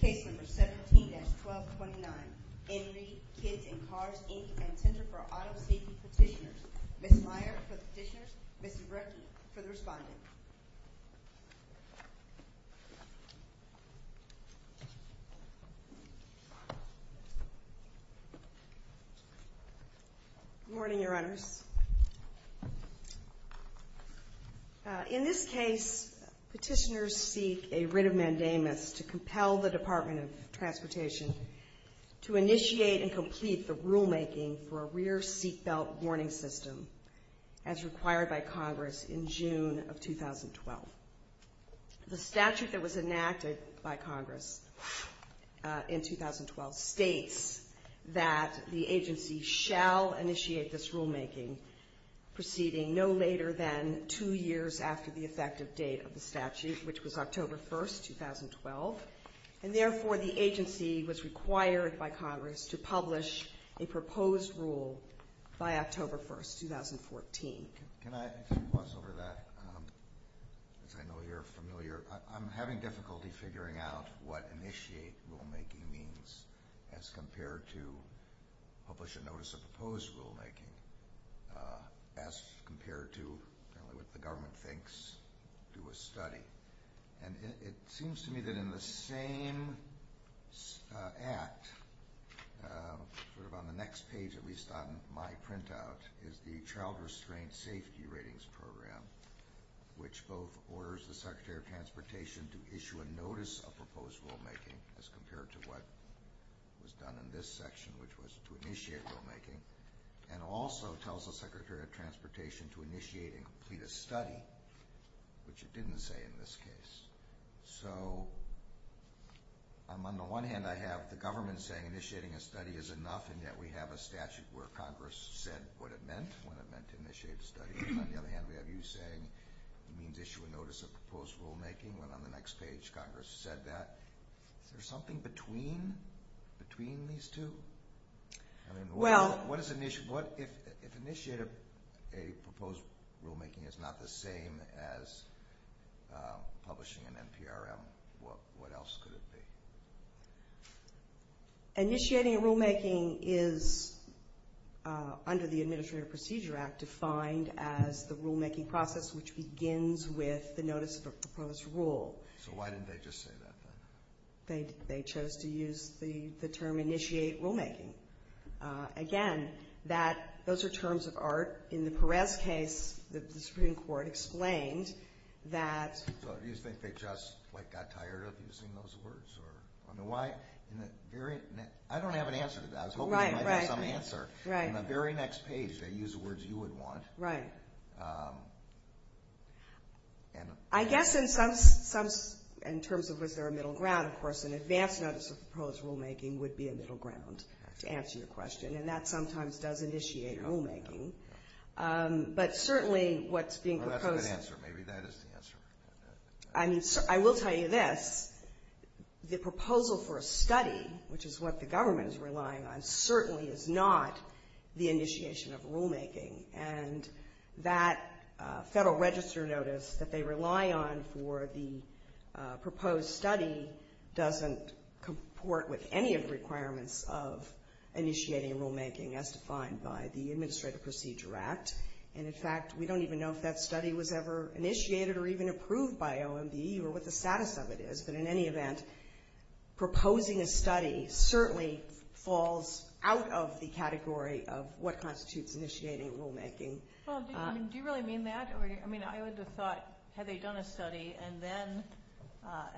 Case number 17-1229, Henry, Kids and Cars, Inc., and Center for Auto Safety Petitioners. Ms. Meyer for the petitioners, Ms. Zubrecki for the respondent. In this case, petitioners seek a writ of mandamus to compel the Department of Transportation to initiate and complete the rulemaking for a rear seat belt warning system as required by Congress in June of 2012. The statute that was enacted by Congress in 2012 states that the agency shall initiate this rulemaking proceeding no later than two years after the effective date of the statute, which was October 1, 2012. And therefore, the agency was required by Congress to publish a proposed rule by October 1, 2014. Can I ask you once over that? As I know you're familiar, I'm having difficulty figuring out what initiate rulemaking means as compared to publish a notice of proposed rulemaking as compared to what the government thinks, do a study. And it seems to me that in the same act, sort of on the next page at least on my printout, is the Child Restraint Safety Ratings Program, which both orders the Secretary of Transportation to issue a notice of proposed rulemaking as compared to what was done in this section, which was to initiate rulemaking, and also tells the Secretary of Transportation to initiate and complete a study, which it didn't say in this case. So on the one hand, I have the government saying initiating a study is enough, and yet we have a statute where Congress said what it meant, when it meant to initiate a study. On the other hand, we have you saying it means issue a notice of proposed rulemaking. When on the next page, Congress said that. Is there something between these two? I mean, what is an issue? If initiating a proposed rulemaking is not the same as publishing an NPRM, what else could it be? Initiating a rulemaking is, under the Administrative Procedure Act, defined as the rulemaking process which begins with the notice of a proposed rule. So why didn't they just say that then? They chose to use the term initiate rulemaking. Again, that, those are terms of art. In the Perez case, the Supreme Court explained that... So you think they just got tired of using those words? I don't have an answer to that. I was hoping you might have some answer. On the very next page, they used the words you would want. I guess in terms of was there a middle ground, of course, an advance notice of proposed rulemaking would be a middle ground, to answer your question, and that sometimes does initiate rulemaking. But certainly what's being proposed... Maybe that is the answer. I mean, I will tell you this. The proposal for a study, which is what the government is relying on, certainly is not the initiation of rulemaking. And that Federal Register notice that they rely on for the proposed study doesn't comport with any of the requirements of initiating a rulemaking as defined by the Administrative Procedure Act. And in fact, we don't even know if that study was ever initiated or even approved by OMB or what the status of it is. But in any event, proposing a study certainly falls out of the category of what constitutes initiating rulemaking. Do you really mean that? I would have thought, had they done a study and then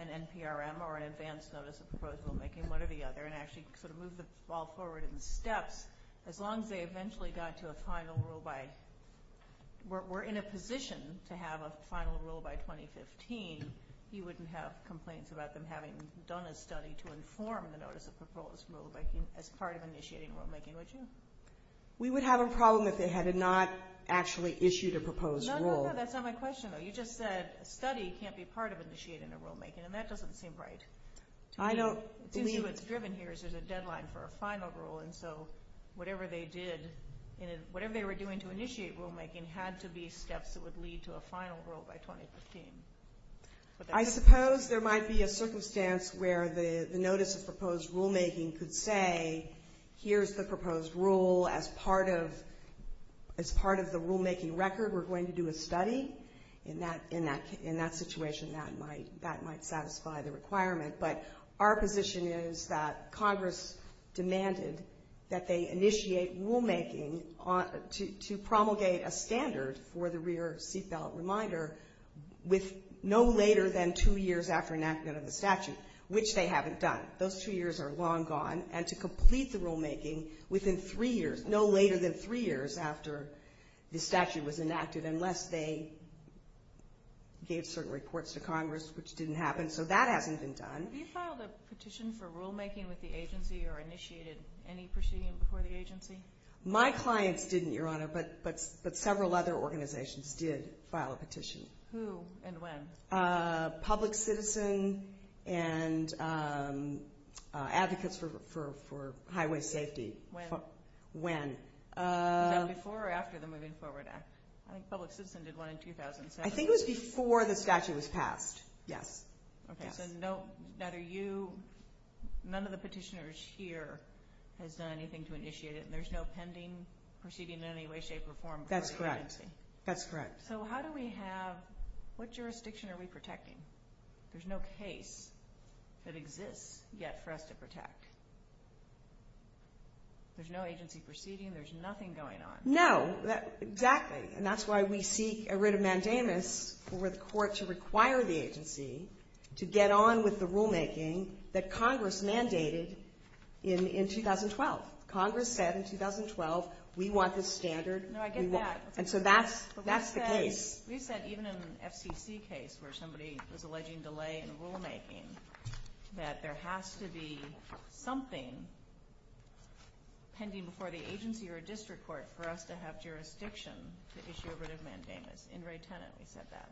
an NPRM or an advance notice of proposed rulemaking, one or the other, and actually sort of moved the ball forward in steps, as long as they eventually got to a final rule by...were in a position to have a final rule by 2015, you wouldn't have complaints about them having done a study to inform the notice of proposed rulemaking as part of initiating rulemaking, would you? We would have a problem if they had not actually issued a proposed rule. No, no, no. That's not my question, though. You just said a study can't be part of initiating a rulemaking, and that doesn't seem right. I don't believe... ...for a final rule, and so whatever they did, whatever they were doing to initiate rulemaking had to be steps that would lead to a final rule by 2015. I suppose there might be a circumstance where the notice of proposed rulemaking could say, here's the proposed rule as part of the rulemaking record, we're going to do a study. In that case, the statute demanded that they initiate rulemaking to promulgate a standard for the rear seat belt reminder with no later than two years after enactment of the statute, which they haven't done. Those two years are long gone, and to complete the rulemaking within three years, no later than three years after the statute was enacted, unless they gave certain reports to Congress, which didn't happen, so that hasn't been done. Have you filed a petition for rulemaking with the agency or initiated any proceeding before the agency? My clients didn't, Your Honor, but several other organizations did file a petition. Who and when? Public Citizen and Advocates for Highway Safety. When? When. Was that before or after the Moving Forward Act? I think Public Citizen did one in 2007. I think it was before the statute was passed, yes. Okay, so no, neither you, none of the petitioners here has done anything to initiate it, and there's no pending proceeding in any way, shape, or form before the agency? That's correct, that's correct. So how do we have, what jurisdiction are we protecting? There's no case that exists yet for us to protect. There's no agency proceeding, there's nothing going on. No, exactly, and that's why we seek a writ of mandamus for the Court to require the agency to get on with the rulemaking that Congress mandated in 2012. Congress said in 2012, we want this standard. No, I get that. And so that's the case. But we've said, even in an FCC case where somebody was alleging delay in rulemaking, that there has to be something pending before the agency or district court for us to have jurisdiction to issue a writ of mandamus. In Ray Tennant, we said that.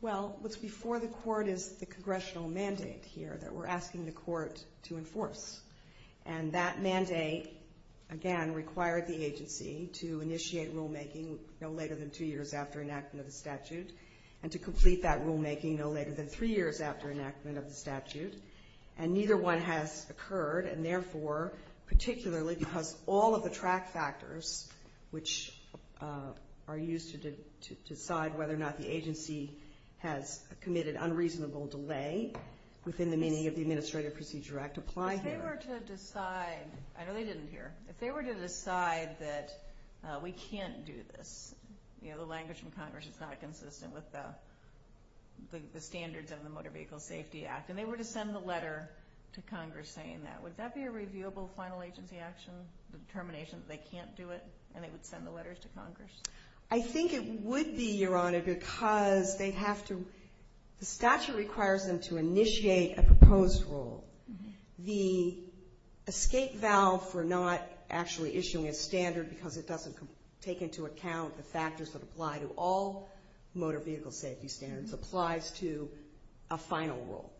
Well, what's before the Court is the Congressional mandate here that we're asking the Court to enforce, and that mandate, again, required the agency to initiate rulemaking no later than two years after enactment of the statute, and to complete that rulemaking no later than three years after enactment of the statute. And neither one has occurred, and therefore, particularly because all of the track factors, which are used to decide whether or not the agency has committed unreasonable delay within the meaning of the Administrative Procedure Act, apply here. If they were to decide, I know they didn't hear, if they were to decide that we can't do this, you know, the language from Congress is not consistent with the standards of the Motor Vehicle Safety Act, and they were to send the letter to Congress saying that, would that be a reviewable final agency action, the determination that they can't do it, and they would send the letters to Congress? I think it would be, Your Honor, because they have to, the statute requires them to initiate a proposed rule. The escape valve for not actually issuing a standard because it doesn't take into account the factors that apply to all motor vehicle safety standards applies to a final rule.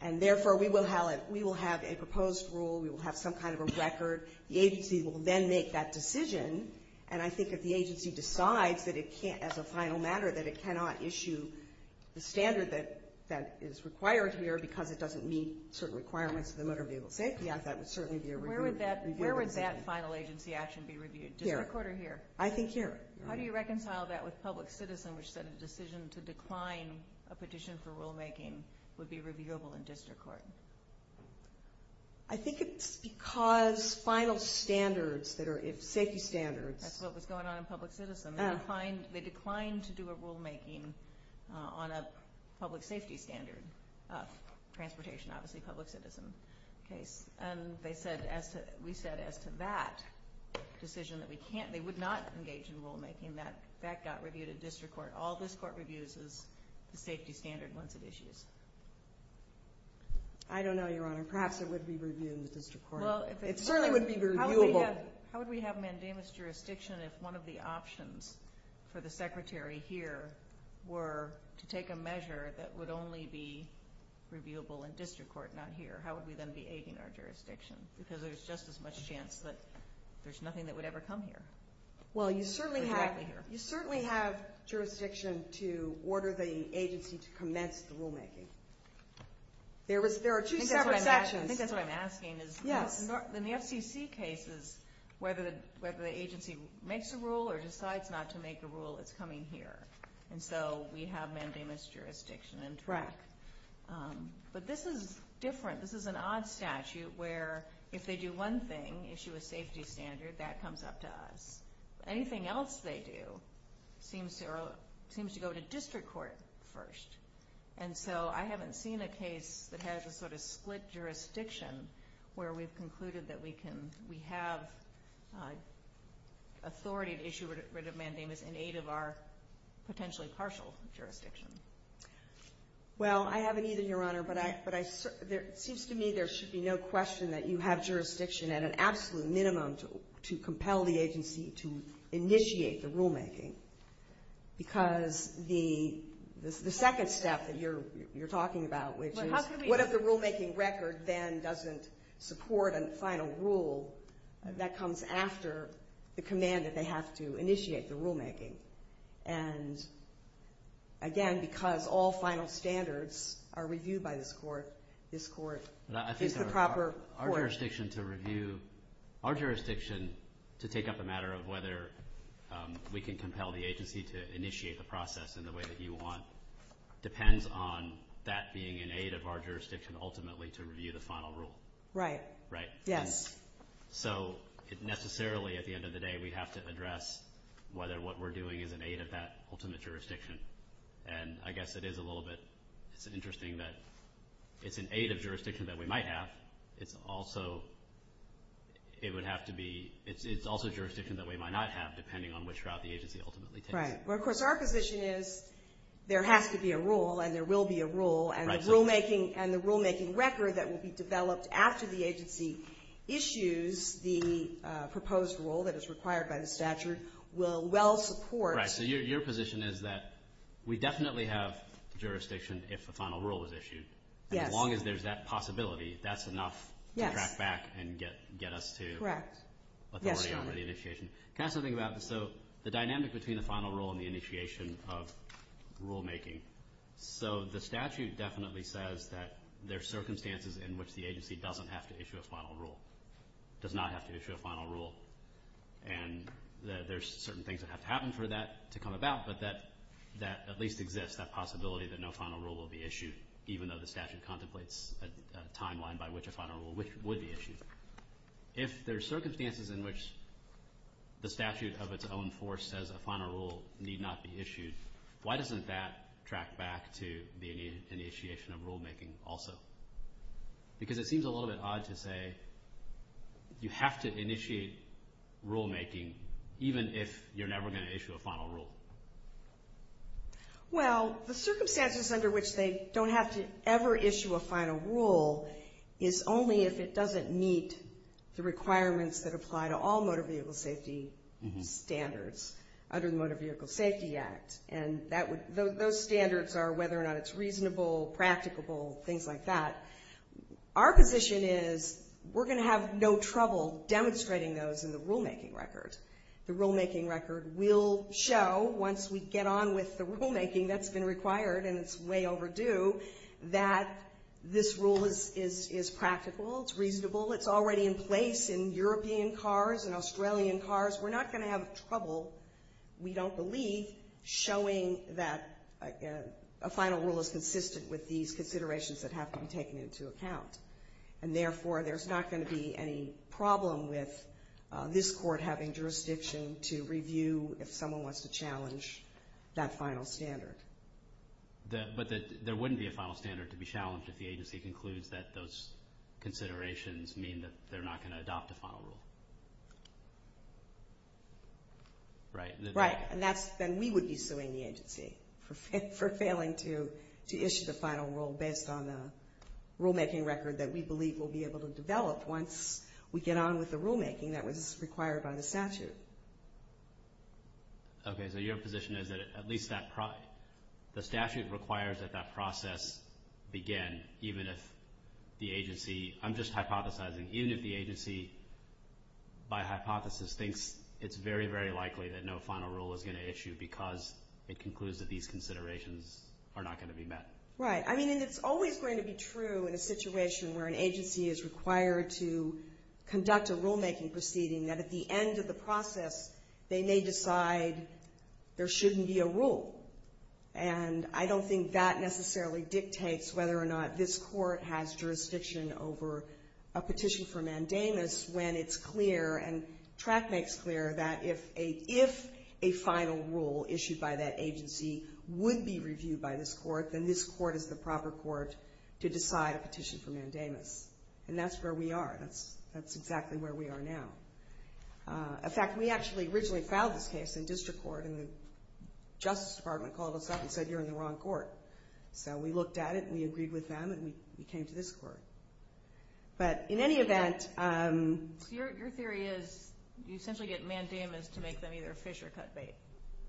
And therefore, we will have a proposed rule, we will have some kind of a record, the agency will then make that decision, and I think if the agency decides that it can't, as a final matter, that it cannot issue the standard that is required here because it doesn't meet certain requirements of the Motor Vehicle Safety Act, that would certainly be a reviewable decision. Where would that final agency action be reviewed? Here. District Court or here? I think here. How do you reconcile that with Public Citizen, which said a decision to decline a petition for rulemaking would be reviewable in District Court? I think it's because final standards that are, safety standards. That's what was going on in Public Citizen. They declined to do a rulemaking on a public vehicle, but as to that decision that we can't, they would not engage in rulemaking. That got reviewed in District Court. All this Court reviews is the safety standard once it issues. I don't know, Your Honor. Perhaps it would be reviewed in the District Court. It certainly would be reviewable. How would we have mandamus jurisdiction if one of the options for the Secretary here were to take a measure that would only be reviewable in District Court, not here? How would we then be aiding our jurisdiction? Because there's just as much chance that there's nothing that would ever come here. Well, you certainly have jurisdiction to order the agency to commence the rulemaking. There are two separate sections. I think that's what I'm asking. Yes. In the FCC cases, whether the agency makes a rule or decides not to make a rule, it's coming here. And so we have mandamus jurisdiction. Right. But this is different. This is an odd statute where if they do one thing, issue a safety standard, that comes up to us. Anything else they do seems to go to District Court first. And so I haven't seen a case that has a sort of split jurisdiction where we've concluded that we have authority to issue a writ of mandamus in aid of our potentially partial jurisdiction. Well, I haven't either, Your Honor. But it seems to me there should be no question that you have jurisdiction at an absolute minimum to compel the agency to initiate the rulemaking. Because the second step that you're talking about, which is what if the rulemaking record then doesn't support a final rule that comes after the command that they have to initiate the rulemaking? And again, because all final standards are reviewed by this court, this court is the proper court. Our jurisdiction to review, our jurisdiction to take up a matter of whether we can compel the agency to initiate the process in the way that you want depends on that being in aid of our jurisdiction ultimately to review the final rule. Right. Right. Yes. So necessarily at the end of the day, we have to address whether what we're doing is in aid of that ultimate jurisdiction. And I guess it is a little bit interesting that it's in aid of jurisdiction that we might have. It's also jurisdiction that we might not have, depending on which route the agency ultimately takes. Right. Well, of course, our position is there has to be a rule, and there will be a rule, and rulemaking and the rulemaking record that will be developed after the agency issues the proposed rule that is required by the statute will well support. Right. So your position is that we definitely have jurisdiction if a final rule is issued. Yes. And as long as there's that possibility, that's enough to track back and get us to let the wording go for the initiation. Correct. Yes, Your Honor. Can I ask something about this? So the dynamic between the final rule and the initiation of rulemaking, so the statute definitely says that there are circumstances in which the agency doesn't have to issue a final rule, does not have to issue a final rule. And there's certain things that have to happen for that to come about, but that at least exists, that possibility that no final rule will be issued, even though the statute contemplates a timeline by which a final rule would be issued. If there are circumstances in which the statute of its own force says a final rule need not be issued, why doesn't that track back to the initiation of rulemaking also? Because it seems a little bit odd to say you have to initiate rulemaking even if you're never going to issue a final rule. Well, the circumstances under which they don't have to ever issue a final rule is only if it doesn't meet the requirements that apply to all motor vehicle safety standards under the Motor Vehicle Safety Act. And those standards are whether or not it's reasonable, practicable, things like that. Our position is we're going to have no trouble demonstrating those in the rulemaking record. The rulemaking record will show once we get on with the rulemaking that's been required and it's way overdue, that this rule is practical, it's reasonable, it's already in place in European cars and Australian cars. We're not going to have trouble, we don't believe, showing that a final rule is consistent with these considerations that have to be taken into account. And therefore, there's not going to be any problem with this Court having jurisdiction to review if someone wants to challenge that final standard. But there wouldn't be a final standard to be challenged if the agency concludes that those considerations mean that they're not going to adopt a final rule. Right. Right. And then we would be suing the agency for failing to issue the final rule based on the rulemaking record that we believe we'll be able to develop once we get on with the rulemaking that was required by the statute. Okay. So your position is that at least the statute requires that that process begin, even if the agency, I'm just hypothesizing, even if the agency by hypothesis thinks it's very, very likely that no final rule is going to issue because it concludes that these considerations are not going to be met. Right. I mean, and it's always going to be true in a situation where an agency is required to process, they may decide there shouldn't be a rule. And I don't think that necessarily dictates whether or not this Court has jurisdiction over a petition for mandamus when it's clear and track makes clear that if a final rule issued by that agency would be reviewed by this Court, then this Court is the proper Court to decide a petition for mandamus. And that's where we are. That's exactly where we are now. In fact, we actually originally filed this case in district court and the Justice Department called us up and said, you're in the wrong court. So we looked at it and we agreed with them and we came to this Court. But in any event... So your theory is you essentially get mandamus to make them either fish or cut bait.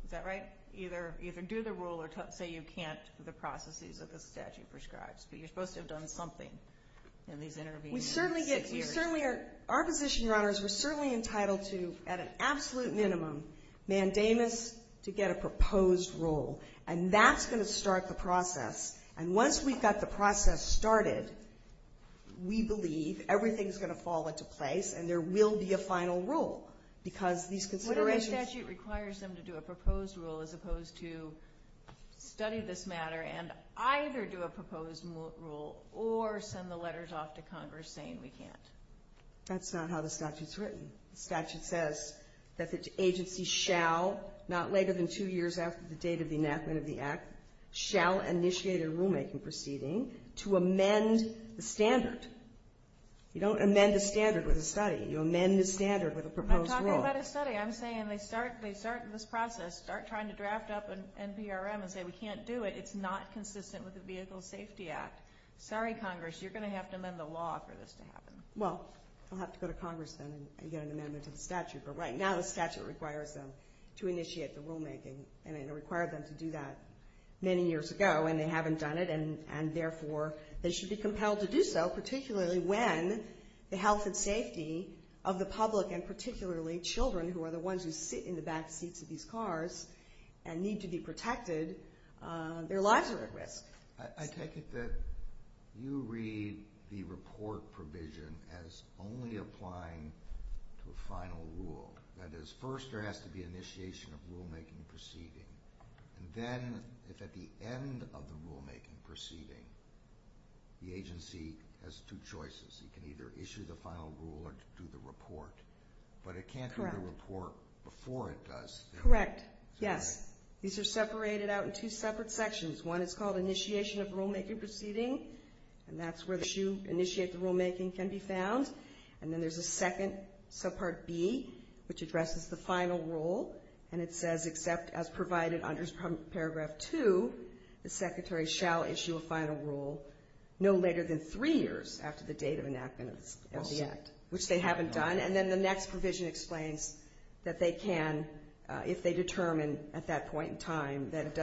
Is that right? Either do the rule or say you can't, the processes that the statute prescribes. But you're supposed to have done something in these intervening six years. Our position, Your Honors, we're certainly entitled to, at an absolute minimum, mandamus to get a proposed rule. And that's going to start the process. And once we've got the process started, we believe everything's going to fall into place and there will be a final rule because these considerations... What if the statute requires them to do a proposed rule as opposed to study this That's not how the statute's written. The statute says that the agency shall, not later than two years after the date of the enactment of the Act, shall initiate a rulemaking proceeding to amend the standard. You don't amend the standard with a study. You amend the standard with a proposed rule. I'm talking about a study. I'm saying they start this process, start trying to draft up an NPRM and say, we can't do it. It's not consistent with the Vehicle Safety Act. Sorry, Congress. You're going to have to amend the law for this to happen. Well, I'll have to go to Congress then and get an amendment to the statute. But right now the statute requires them to initiate the rulemaking. And it required them to do that many years ago, and they haven't done it, and therefore they should be compelled to do so, particularly when the health and safety of the public, and particularly children who are the ones who sit in the back seats of these cars and need to be protected, their lives are at risk. I take it that you read the report provision as only applying to a final rule. That is, first there has to be initiation of rulemaking proceeding. And then if at the end of the rulemaking proceeding the agency has two choices, it can either issue the final rule or do the report. But it can't do the report before it does. Correct. Yes. These are separated out in two separate sections. One is called initiation of rulemaking proceeding, and that's where you initiate the rulemaking can be found. And then there's a second, subpart B, which addresses the final rule, and it says except as provided under Paragraph 2, the secretary shall issue a final rule no later than three years after the date of enactment of the act, which they haven't done. And then the next provision explains that they can, unless there's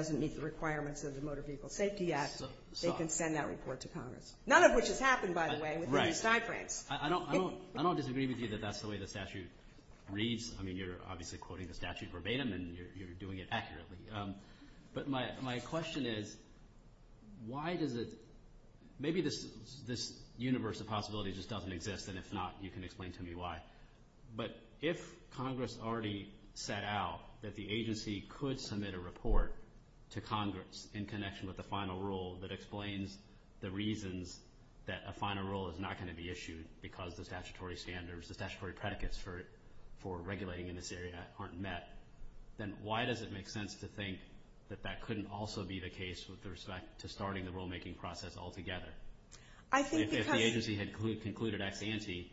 a Motor Vehicle Safety Act, they can send that report to Congress. None of which has happened, by the way, within these timeframes. I don't disagree with you that that's the way the statute reads. I mean, you're obviously quoting the statute verbatim, and you're doing it accurately. But my question is why does it – maybe this universe of possibility just doesn't exist, and if not, you can explain to me why. But if Congress already set out that the agency could submit a report to Congress in connection with the final rule that explains the reasons that a final rule is not going to be issued because the statutory standards, the statutory predicates for regulating in this area aren't met, then why does it make sense to think that that couldn't also be the case with respect to starting the rulemaking process altogether? If the agency had concluded ex ante,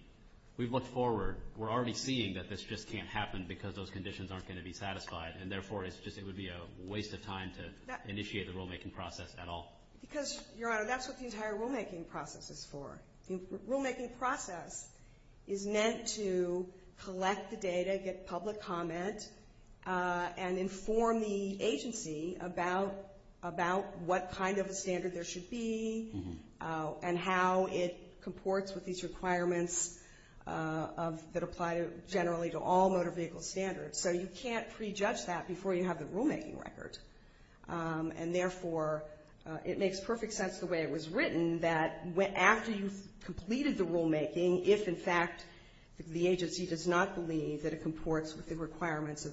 we've looked forward. We're already seeing that this just can't happen because those conditions aren't going to be satisfied, and therefore it would be a waste of time to initiate the rulemaking process at all. Because, Your Honor, that's what the entire rulemaking process is for. The rulemaking process is meant to collect the data, get public comment, and inform the agency about what kind of a standard there should be and how it comports with these requirements that apply generally to all motor vehicle standards. So you can't prejudge that before you have the rulemaking record, and therefore it makes perfect sense the way it was written that after you've completed the rulemaking, if, in fact, the agency does not believe that it comports with the requirements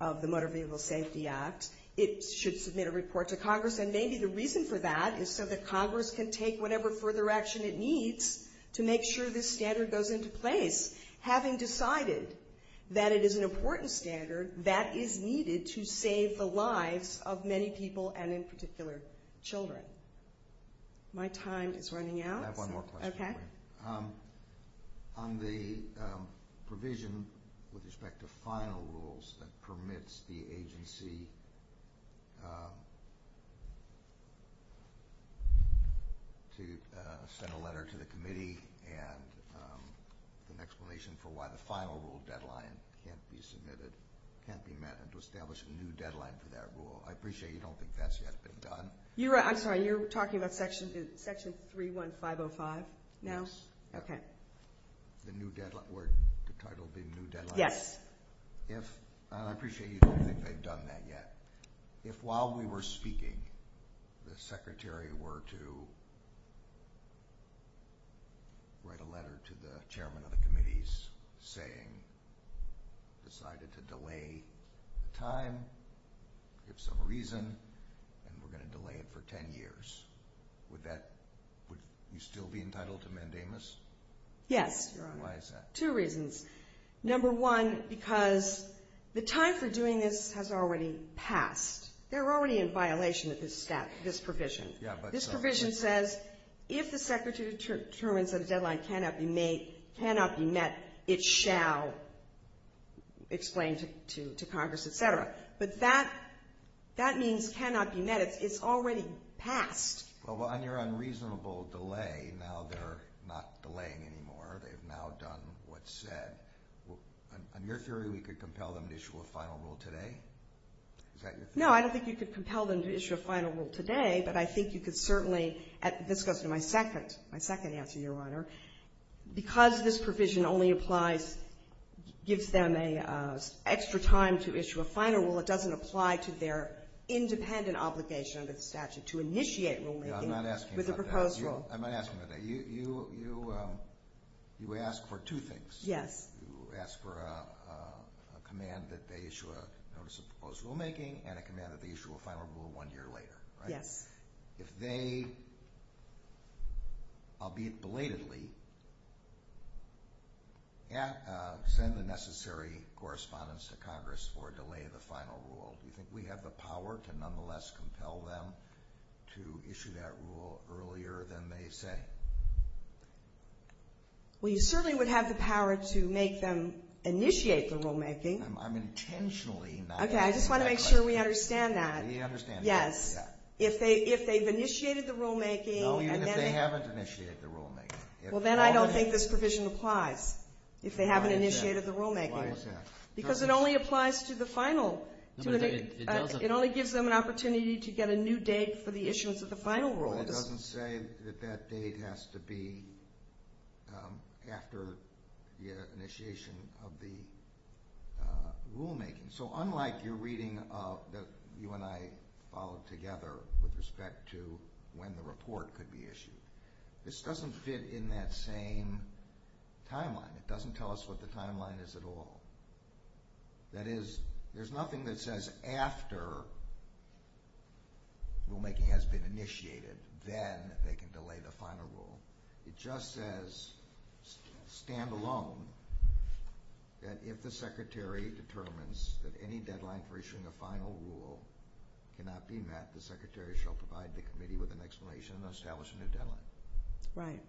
of the Motor Vehicle Safety Act, it should submit a report to Congress. And maybe the reason for that is so that Congress can take whatever further action it needs to make sure this standard goes into place, having decided that it is an important standard that is needed to save the lives of many people and, in particular, children. My time is running out. I have one more question. Okay. On the provision with respect to final rules that permits the agency to send a letter to the committee and an explanation for why the final rule deadline can't be met and to establish a new deadline for that rule, I appreciate you don't think that's yet been done. You're right. I'm sorry. You're talking about Section 31505 now? Yes. Okay. The new deadline. Would the title be new deadline? Yes. I appreciate you don't think they've done that yet. If while we were speaking, the secretary were to write a letter to the chairman of the committees saying, decided to delay the time, give some reason, and we're going to delay it for 10 years, would you still be entitled to mandamus? Yes. Why is that? Two reasons. Number one, because the time for doing this has already passed. They're already in violation of this provision. This provision says if the secretary determines that a deadline cannot be met, it shall explain to Congress, et cetera. But that means cannot be met. It's already passed. Well, on your unreasonable delay, now they're not delaying anymore. They've now done what's said. On your theory, we could compel them to issue a final rule today? Is that your theory? No, I don't think you could compel them to issue a final rule today, but I think you could certainly, this goes to my second answer, Your Honor. Because this provision only applies, gives them an extra time to issue a final rule, it doesn't apply to their independent obligation under the statute to initiate rulemaking with a proposed rule. I'm not asking about that. I'm not asking about that. You ask for two things. Yes. You ask for a command that they issue a notice of proposed rulemaking and a command that they issue a final rule one year later, right? Yes. If they, albeit belatedly, send the necessary correspondence to Congress for a delay to the final rule, do you think we have the power to nonetheless compel them to issue that rule earlier than they say? Well, you certainly would have the power to make them initiate the rulemaking. I'm intentionally not asking that question. Okay. I just want to make sure we understand that. We understand that. Yes. If they've initiated the rulemaking and then they... No, even if they haven't initiated the rulemaking. Well, then I don't think this provision applies if they haven't initiated the rulemaking. Why is that? Because it only applies to the final. It only gives them an opportunity to get a new date for the issuance of the final rule. But it doesn't say that that date has to be after the initiation of the rulemaking. So unlike your reading that you and I followed together with respect to when the report could be issued, this doesn't fit in that same timeline. It doesn't tell us what the timeline is at all. That is, there's nothing that says after rulemaking has been initiated, then they can delay the final rule. It just says, stand alone, that if the Secretary determines that any deadline for issuing a final rule cannot be met, the Secretary shall provide the committee with an explanation and establish a new deadline. Right.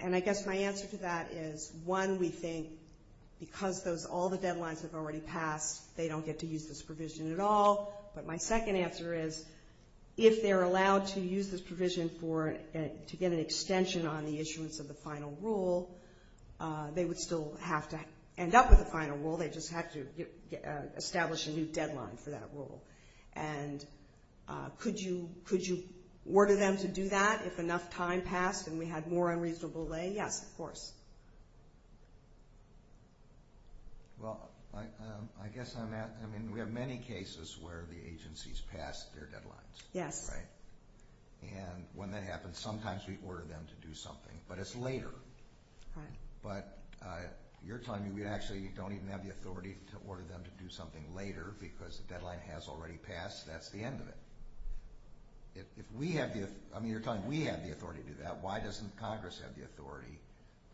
And I guess my answer to that is, one, we think because all the deadlines have already passed, they don't get to use this provision at all. But my second answer is, if they're allowed to use this provision to get an extension on the issuance of the final rule, they would still have to end up with a final rule. They'd just have to establish a new deadline for that rule. And could you order them to do that if enough time passed and we had more unreasonable delay? Yes, of course. Well, I guess on that, I mean, we have many cases where the agencies pass their deadlines. Yes. Right. And when that happens, sometimes we order them to do something, but it's later. Right. But you're telling me we actually don't even have the authority to order them to do something later because the deadline has already passed. That's the end of it. If we have the authority, I mean, you're telling me we have the authority to do that. Why doesn't Congress have the authority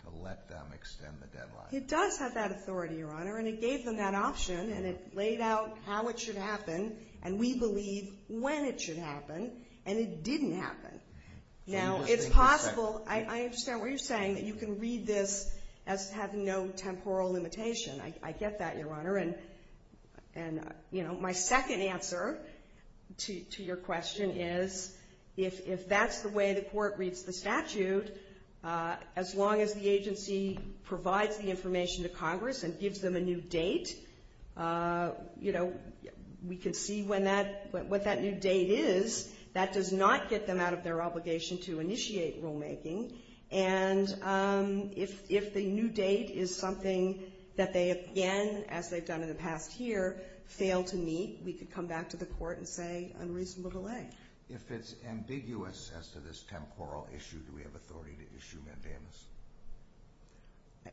to let them extend the deadline? It does have that authority, Your Honor, and it gave them that option, and it laid out how it should happen, and we believe when it should happen, and it didn't happen. Now, it's possible. I understand what you're saying, that you can read this as having no temporal limitation. I get that, Your Honor, and, you know, my second answer to your question is, if that's the way the court reads the statute, as long as the agency provides the information to Congress and gives them a new date, you know, we can see what that new date is. That does not get them out of their obligation to initiate rulemaking, and if the new date is something that they, again, as they've done in the past year, fail to meet, we could come back to the court and say unreasonable delay. If it's ambiguous as to this temporal issue, do we have authority to issue mandamus?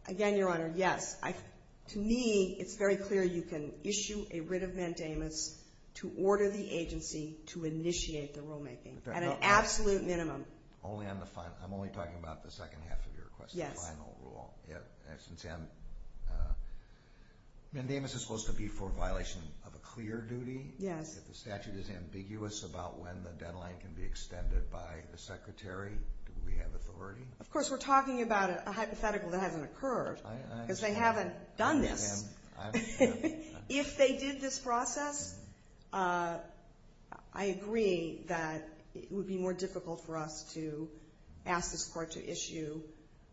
Again, Your Honor, yes. To me, it's very clear you can issue a writ of mandamus to order the agency to initiate the rulemaking at an absolute minimum. Only on the final? I'm only talking about the second half of your question, final rule. Yes. Since mandamus is supposed to be for violation of a clear duty, if the statute is ambiguous about when the deadline can be extended by the secretary, do we have authority? Of course, we're talking about a hypothetical that hasn't occurred, because they haven't done this. If they did this process, I agree that it would be more difficult for us to ask this court to issue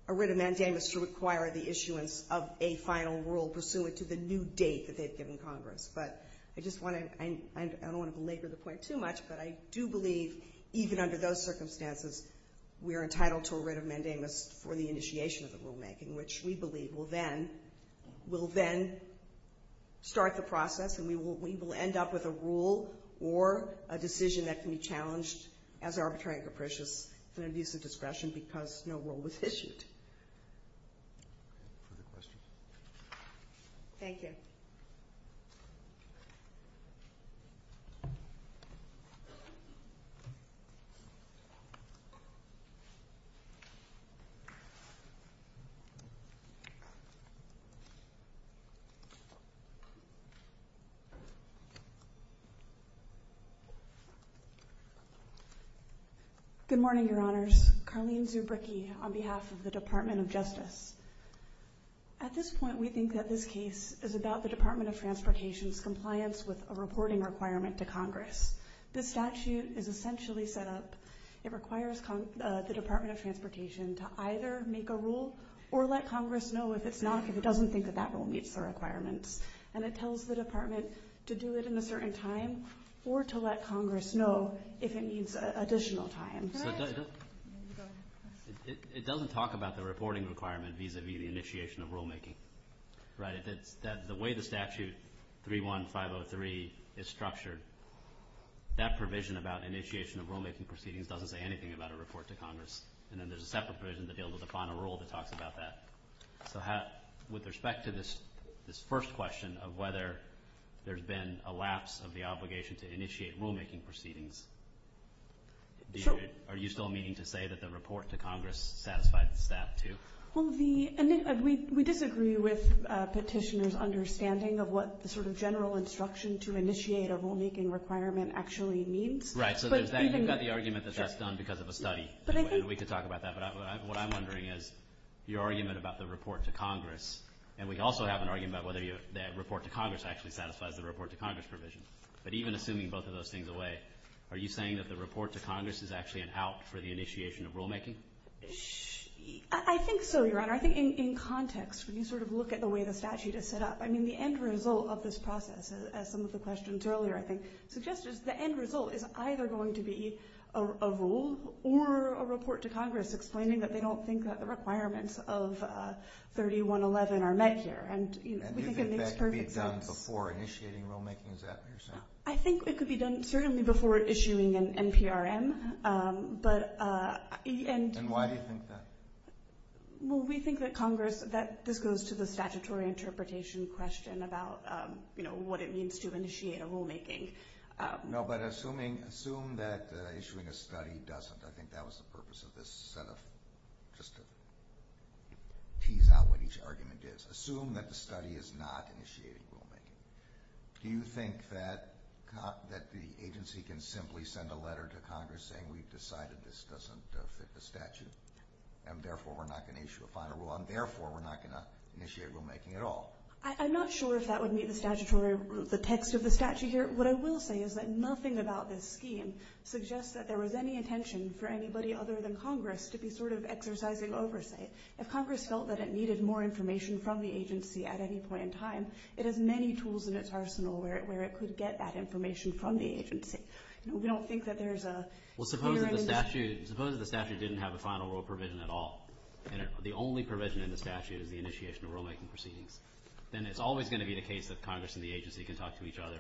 a writ of mandamus to require the issuance of a final rule pursuant to the new date that they've given Congress. But I don't want to belabor the point too much, but I do believe, even under those circumstances, we are entitled to a writ of mandamus for the initiation of the rulemaking, which we believe will then start the process, and we will end up with a rule or a decision that can be challenged as arbitrary and capricious and an abuse of discretion because no rule was issued. Further questions? Thank you. Good morning, Your Honors. Carlene Zubricki on behalf of the Department of Justice. At this point, we think that this case is about the Department of Transportation's compliance with a reporting requirement to Congress. This statute is essentially set up, it requires the Department of Transportation to either make a rule or let Congress know if it's not, if it doesn't think that that rule meets the requirements. And it tells the Department to do it in a certain time or to let Congress know if it needs additional time. It doesn't talk about the reporting requirement vis-a-vis the initiation of rulemaking, right? And that the way the statute 31503 is structured, that provision about initiation of rulemaking proceedings doesn't say anything about a report to Congress. And then there's a separate provision that deals with the final rule that talks about that. So with respect to this first question of whether there's been a lapse of the obligation to initiate rulemaking proceedings, are you still meaning to say that the report to Congress satisfies that too? Well, we disagree with Petitioner's understanding of what the sort of general instruction to initiate a rulemaking requirement actually means. Right. So you've got the argument that that's done because of a study, and we could talk about that. But what I'm wondering is your argument about the report to Congress, and we also have an argument about whether the report to Congress actually satisfies the report to Congress provision. But even assuming both of those things away, are you saying that the report to Congress is actually an out for the initiation of rulemaking? I think so, Your Honor. I think in context, when you sort of look at the way the statute is set up, I mean, the end result of this process, as some of the questions earlier I think suggested, the end result is either going to be a rule or a report to Congress explaining that they don't think that the requirements of 3111 are met here. And do you think that could be done before initiating rulemaking? Is that what you're saying? I think it could be done certainly before issuing an NPRM. And why do you think that? Well, we think that Congress, this goes to the statutory interpretation question about, you know, what it means to initiate a rulemaking. No, but assume that issuing a study doesn't. I think that was the purpose of this set of, just to tease out what each argument is. Assume that the study is not initiating rulemaking. Do you think that the agency can simply send a letter to Congress saying we've decided this doesn't fit the statute and therefore we're not going to issue a final rule and therefore we're not going to initiate rulemaking at all? I'm not sure if that would meet the statutory, the text of the statute here. What I will say is that nothing about this scheme suggests that there was any intention for anybody other than Congress to be sort of exercising oversight. If Congress felt that it needed more information from the agency at any point in time, it has many tools in its arsenal where it could get that information from the agency. We don't think that there's a clear intention. Well, suppose that the statute didn't have a final rule provision at all and the only provision in the statute is the initiation of rulemaking proceedings. Then it's always going to be the case that Congress and the agency can talk to each other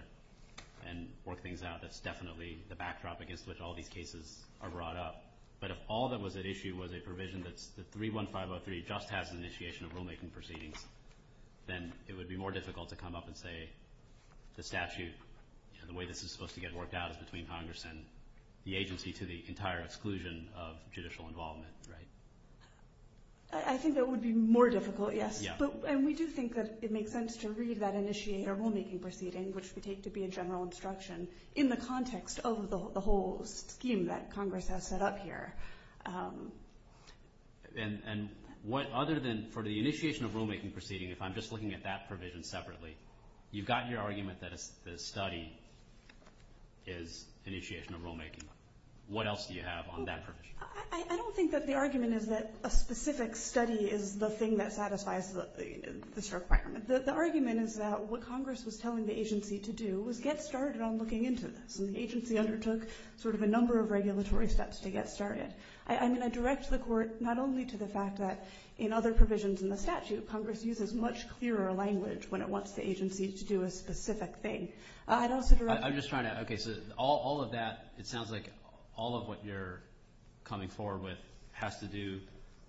and work things out. That's definitely the backdrop against which all these cases are brought up. But if all that was at issue was a provision that 31503 just has an initiation of rulemaking proceedings, then it would be more difficult to come up and say the statute, the way this is supposed to get worked out, is between Congress and the agency to the entire exclusion of judicial involvement, right? I think that would be more difficult, yes. And we do think that it makes sense to read that initiator rulemaking proceeding, which we take to be a general instruction, in the context of the whole scheme that Congress has set up here. And what other than for the initiation of rulemaking proceeding, if I'm just looking at that provision separately, you've got your argument that the study is initiation of rulemaking. What else do you have on that provision? I don't think that the argument is that a specific study is the thing that satisfies this requirement. The argument is that what Congress was telling the agency to do was get started on looking into this, and the agency undertook sort of a number of regulatory steps to get started. I mean, I direct the Court not only to the fact that in other provisions in the statute, Congress uses much clearer language when it wants the agency to do a specific thing. I'd also direct the Court to do that. I'm just trying to – okay, so all of that, it sounds like all of what you're coming forward with has to do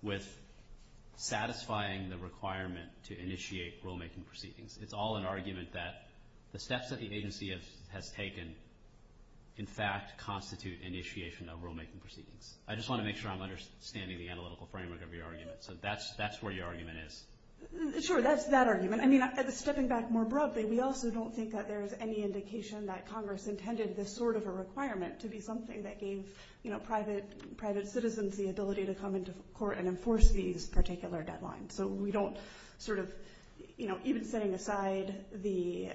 with It's all an argument that the steps that the agency has taken, in fact, constitute initiation of rulemaking proceedings. I just want to make sure I'm understanding the analytical framework of your argument. So that's where your argument is. Sure, that's that argument. I mean, stepping back more broadly, we also don't think that there's any indication that Congress intended this sort of a requirement to be something that gave private citizens the ability to come into court and enforce these particular deadlines. So we don't sort of – even setting aside the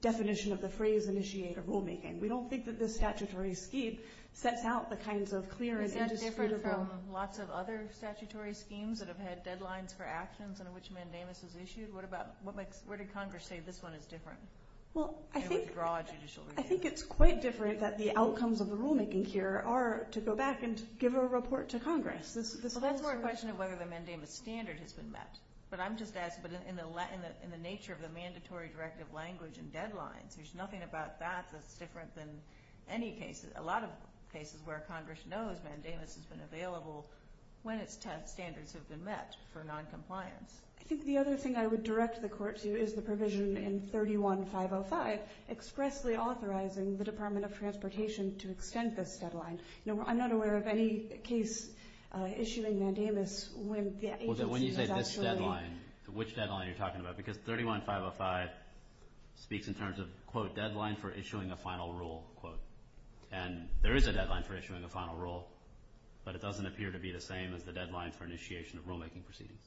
definition of the phrase, initiate a rulemaking, we don't think that this statutory scheme sets out the kinds of clear and indisputable – Is that different from lots of other statutory schemes that have had deadlines for actions under which mandamus is issued? Where did Congress say this one is different? I think it's quite different that the outcomes of the rulemaking here are to go back and give a report to Congress. Well, that's more a question of whether the mandamus standard has been met. But I'm just asking, in the nature of the mandatory directive language and deadlines, there's nothing about that that's different than any cases – a lot of cases where Congress knows mandamus has been available when its standards have been met for noncompliance. I think the other thing I would direct the Court to is the provision in 31505 expressly authorizing the Department of Transportation to extend this deadline. I'm not aware of any case issuing mandamus when the agency has actually – When you say this deadline, which deadline are you talking about? Because 31505 speaks in terms of, quote, deadline for issuing a final rule, quote. And there is a deadline for issuing a final rule, but it doesn't appear to be the same as the deadline for initiation of rulemaking proceedings.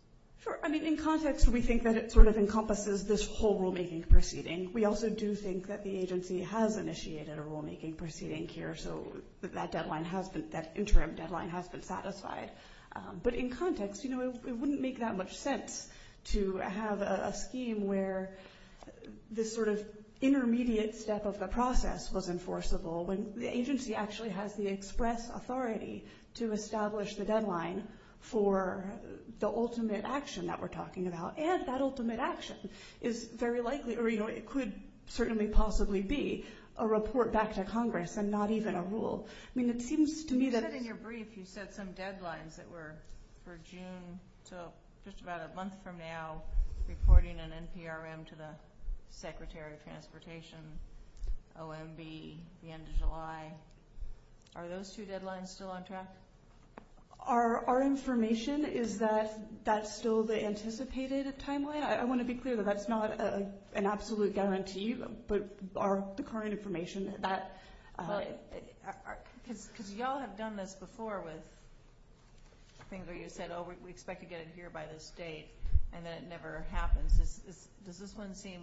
Sure. I mean, in context, we think that it sort of encompasses this whole rulemaking proceeding. We also do think that the agency has initiated a rulemaking proceeding here, so that deadline has been – that interim deadline has been satisfied. But in context, you know, it wouldn't make that much sense to have a scheme where this sort of intermediate step of the process was enforceable when the agency actually has the express authority to establish the deadline for the ultimate action that we're talking about. And that ultimate action is very likely – or, you know, it could certainly possibly be a report back to Congress and not even a rule. I mean, it seems to me that – You said in your brief, you said some deadlines that were for June to just about a month from now, reporting an NPRM to the Secretary of Transportation, OMB, the end of July. Are those two deadlines still on track? Our information is that that's still the anticipated timeline. I want to be clear that that's not an absolute guarantee, but the current information that – Because you all have done this before with things where you said, oh, we expect to get it here by this date, and then it never happens. Does this one seem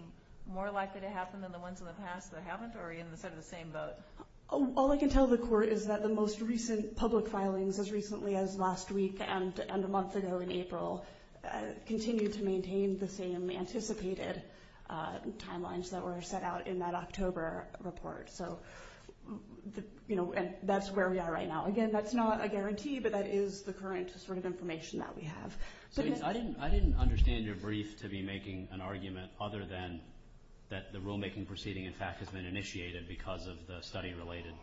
more likely to happen than the ones in the past that haven't, or are you in the same boat? All I can tell the Court is that the most recent public filings, as recently as last week and a month ago in April, continue to maintain the same anticipated timelines that were set out in that October report. So, you know, that's where we are right now. Again, that's not a guarantee, but that is the current sort of information that we have. I didn't understand your brief to be making an argument other than that the rulemaking proceeding, in fact, has been initiated because of the study-related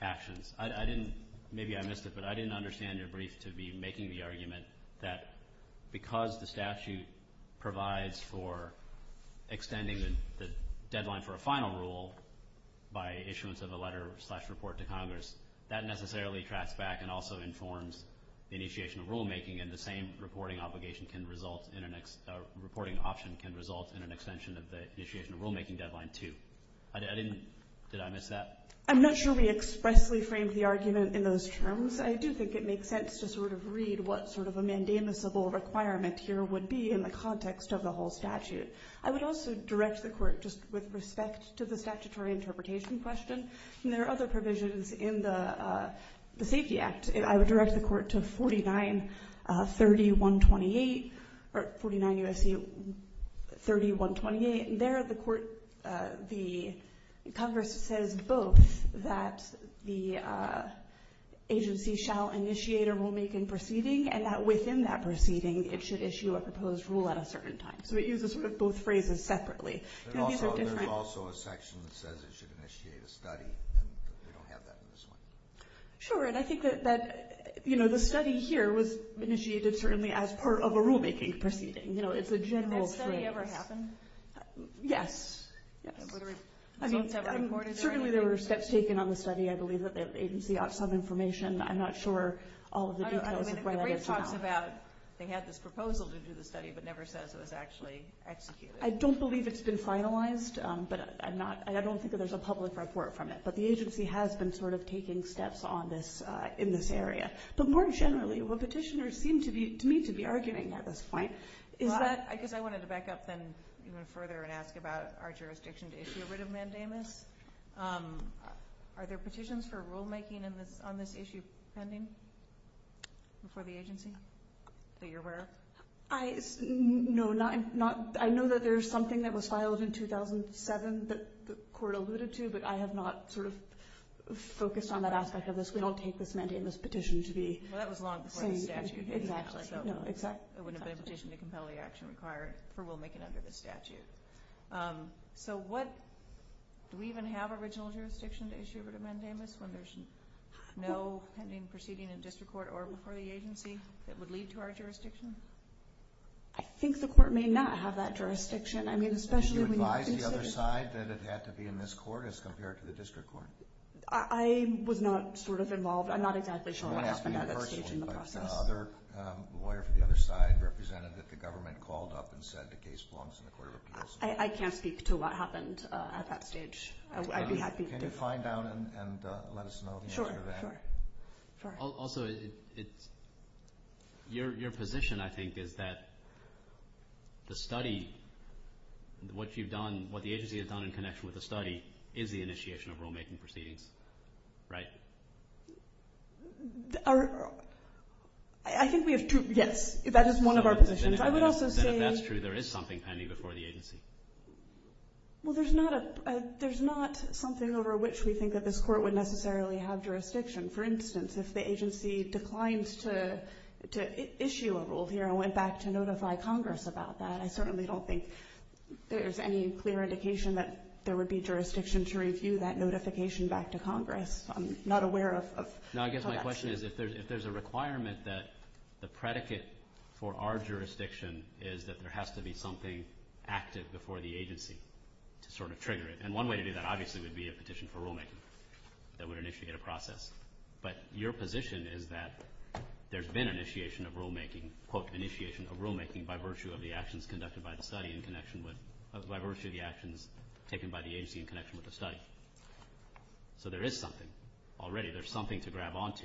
actions. I didn't – maybe I missed it, but I didn't understand your brief to be making the argument that because the statute provides for extending the deadline for a final rule by issuance of a letter slash report to Congress, that necessarily tracks back and also informs the initiation of rulemaking, and the same reporting obligation can result in an – reporting option can result in an extension of the initiation of rulemaking deadline, too. I didn't – did I miss that? I'm not sure we expressly framed the argument in those terms. I do think it makes sense to sort of read what sort of a mandamusable requirement here would be in the context of the whole statute. I would also direct the court just with respect to the statutory interpretation question. There are other provisions in the Safety Act. I would direct the court to 4930.128 – or 49 U.S.C. 30.128. There the court – the Congress says both that the agency shall initiate a rulemaking proceeding and that within that proceeding it should issue a proposed rule at a certain time. So it uses sort of both phrases separately. These are different – There's also a section that says it should initiate a study, and we don't have that in this one. Sure, and I think that, you know, the study here was initiated certainly as part of a rulemaking proceeding. You know, it's a general phrase. Did that study ever happen? Yes, yes. I mean, certainly there were steps taken on the study. I believe that the agency ought some information. I'm not sure all of the details of where that is now. The brief talks about they had this proposal to do the study but never says it was actually executed. I don't believe it's been finalized, but I don't think that there's a public report from it. But the agency has been sort of taking steps on this in this area. But more generally, what petitioners seem to me to be arguing at this point is that – I guess I wanted to back up then even further and ask about our jurisdiction to issue a writ of mandamus. Are there petitions for rulemaking on this issue pending before the agency that you're aware of? No, not – I know that there's something that was filed in 2007 that the court alluded to, but I have not sort of focused on that aspect of this. We don't take this mandamus petition to be – Exactly. No, exactly. It wouldn't have been a petition to compel the action required for rulemaking under this statute. So what – do we even have original jurisdiction to issue a writ of mandamus when there's no pending proceeding in district court or before the agency that would lead to our jurisdiction? I think the court may not have that jurisdiction. I mean, especially when you – Did you advise the other side that it had to be in this court as compared to the district court? I was not sort of involved. I'm not exactly sure what happened at that stage in the process. The other – the lawyer for the other side represented that the government called up and said the case belongs in the court of appeals. I can't speak to what happened at that stage. I'd be happy to. Can you find out and let us know the answer to that? Sure, sure. Also, it's – your position, I think, is that the study, what you've done, what the agency has done in connection with the study is the initiation of rulemaking proceedings, right? Our – I think we have two – yes, that is one of our positions. I would also say – Then if that's true, there is something pending before the agency. Well, there's not a – there's not something over which we think that this court would necessarily have jurisdiction. For instance, if the agency declined to issue a rule here and went back to notify Congress about that, I certainly don't think there's any clear indication that there would be jurisdiction to review that notification back to Congress. I'm not aware of that. No, I guess my question is if there's a requirement that the predicate for our jurisdiction is that there has to be something active before the agency to sort of trigger it. And one way to do that, obviously, would be a petition for rulemaking that would initiate a process. But your position is that there's been initiation of rulemaking, quote, initiation of rulemaking by virtue of the actions conducted by the study in connection with – by virtue of the actions taken by the agency in connection with the study. So there is something. Already there's something to grab onto.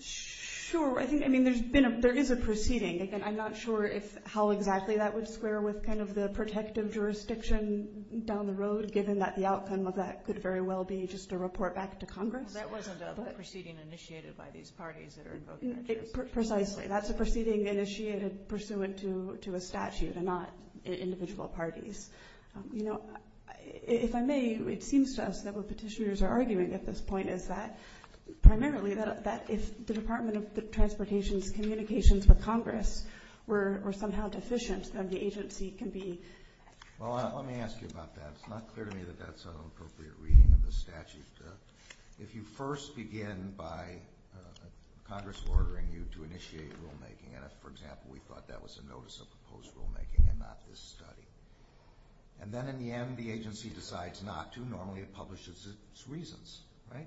Sure. I think – I mean, there's been a – there is a proceeding. Again, I'm not sure if – how exactly that would square with kind of the protective jurisdiction down the road, given that the outcome of that could very well be just a report back to Congress. Well, that wasn't a proceeding initiated by these parties that are invoking that jurisdiction. Precisely. That's a proceeding initiated pursuant to a statute and not individual parties. You know, if I may, it seems to us that what petitioners are arguing at this point is that – primarily that if the Department of Transportation's communications with Congress were somehow deficient, then the agency can be – Well, let me ask you about that. It's not clear to me that that's an appropriate reading of the statute. If you first begin by Congress ordering you to initiate rulemaking, and if, for example, we thought that was a notice of proposed rulemaking and not this study, and then in the end the agency decides not to, normally it publishes its reasons, right?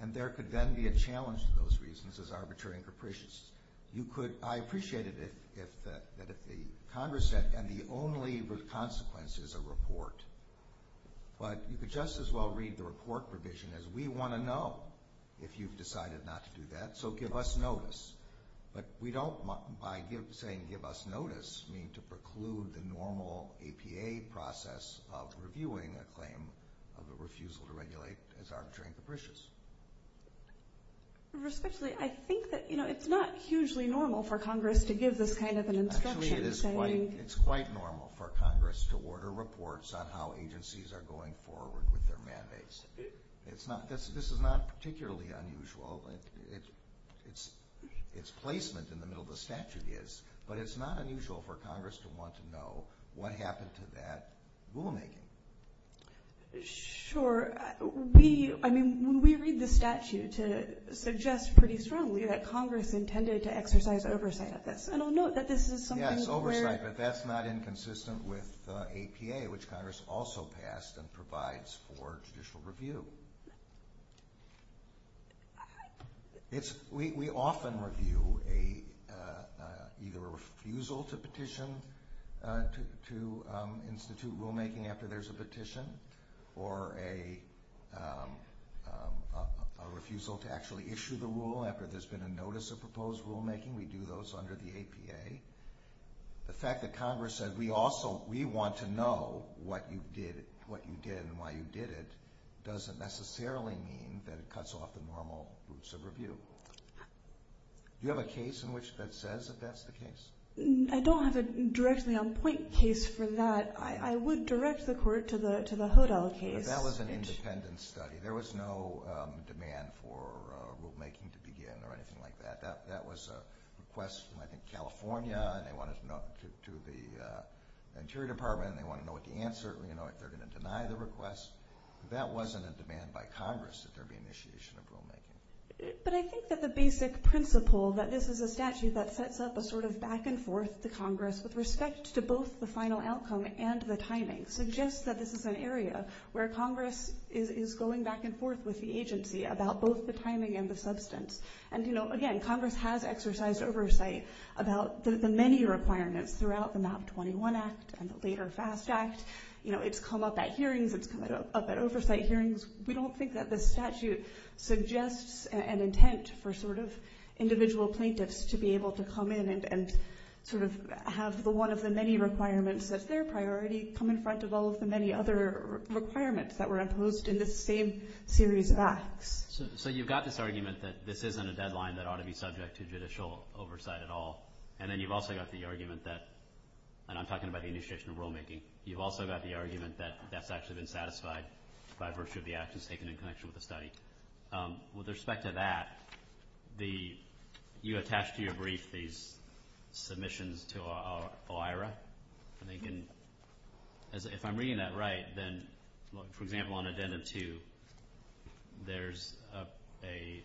And there could then be a challenge to those reasons as arbitrary and capricious. You could – I appreciate it if – that if the Congress said, and the only consequence is a report, but you could just as well read the report provision as we want to know if you've decided not to do that, so give us notice. But we don't, by saying give us notice, mean to preclude the normal APA process of reviewing a claim of a refusal to regulate as arbitrary and capricious. Respectfully, I think that, you know, it's not hugely normal for Congress to give this kind of an instruction. Actually, it is quite normal for Congress to order reports on how agencies are going forward with their mandates. This is not particularly unusual. Its placement in the middle of the statute is, but it's not unusual for Congress to want to know what happened to that rulemaking. Sure. We – I mean, when we read the statute, it suggests pretty strongly that Congress intended to exercise oversight of this, and I'll note that this is something where – Yes, oversight, but that's not inconsistent with APA, which Congress also passed and provides for judicial review. We often review either a refusal to petition to institute rulemaking after there's a petition or a refusal to actually issue the rule after there's been a notice of proposed rulemaking. We do those under the APA. The fact that Congress said, we also – we want to know what you did and why you did it doesn't necessarily mean that it cuts off the normal routes of review. Do you have a case in which that says that that's the case? I don't have a directly on point case for that. I would direct the Court to the Hodel case. That was an independent study. There was no demand for rulemaking to begin or anything like that. That was a request from, I think, California, and they wanted to know – to the Interior Department, and they wanted to know what the answer – you know, if they're going to deny the request. That wasn't a demand by Congress that there be initiation of rulemaking. But I think that the basic principle that this is a statute that sets up a sort of back-and-forth to Congress with respect to both the final outcome and the timing suggests that this is an area where Congress is going back and forth with the agency about both the timing and the substance. And, you know, again, Congress has exercised oversight about the many requirements throughout the MAP-21 Act and the later FAST Act. You know, it's come up at hearings. It's come up at oversight hearings. We don't think that this statute suggests an intent for sort of individual plaintiffs to be able to come in and sort of have one of the many requirements as their priority come in front of all of the many other requirements that were imposed in this same series of acts. So you've got this argument that this isn't a deadline that ought to be subject to judicial oversight at all. And then you've also got the argument that – and I'm talking about the initiation of rulemaking. You've also got the argument that that's actually been satisfied by virtue of the actions taken in connection with the study. With respect to that, you attached to your brief these submissions to OIRA. If I'm reading that right, then, for example, on Addendum 2, there's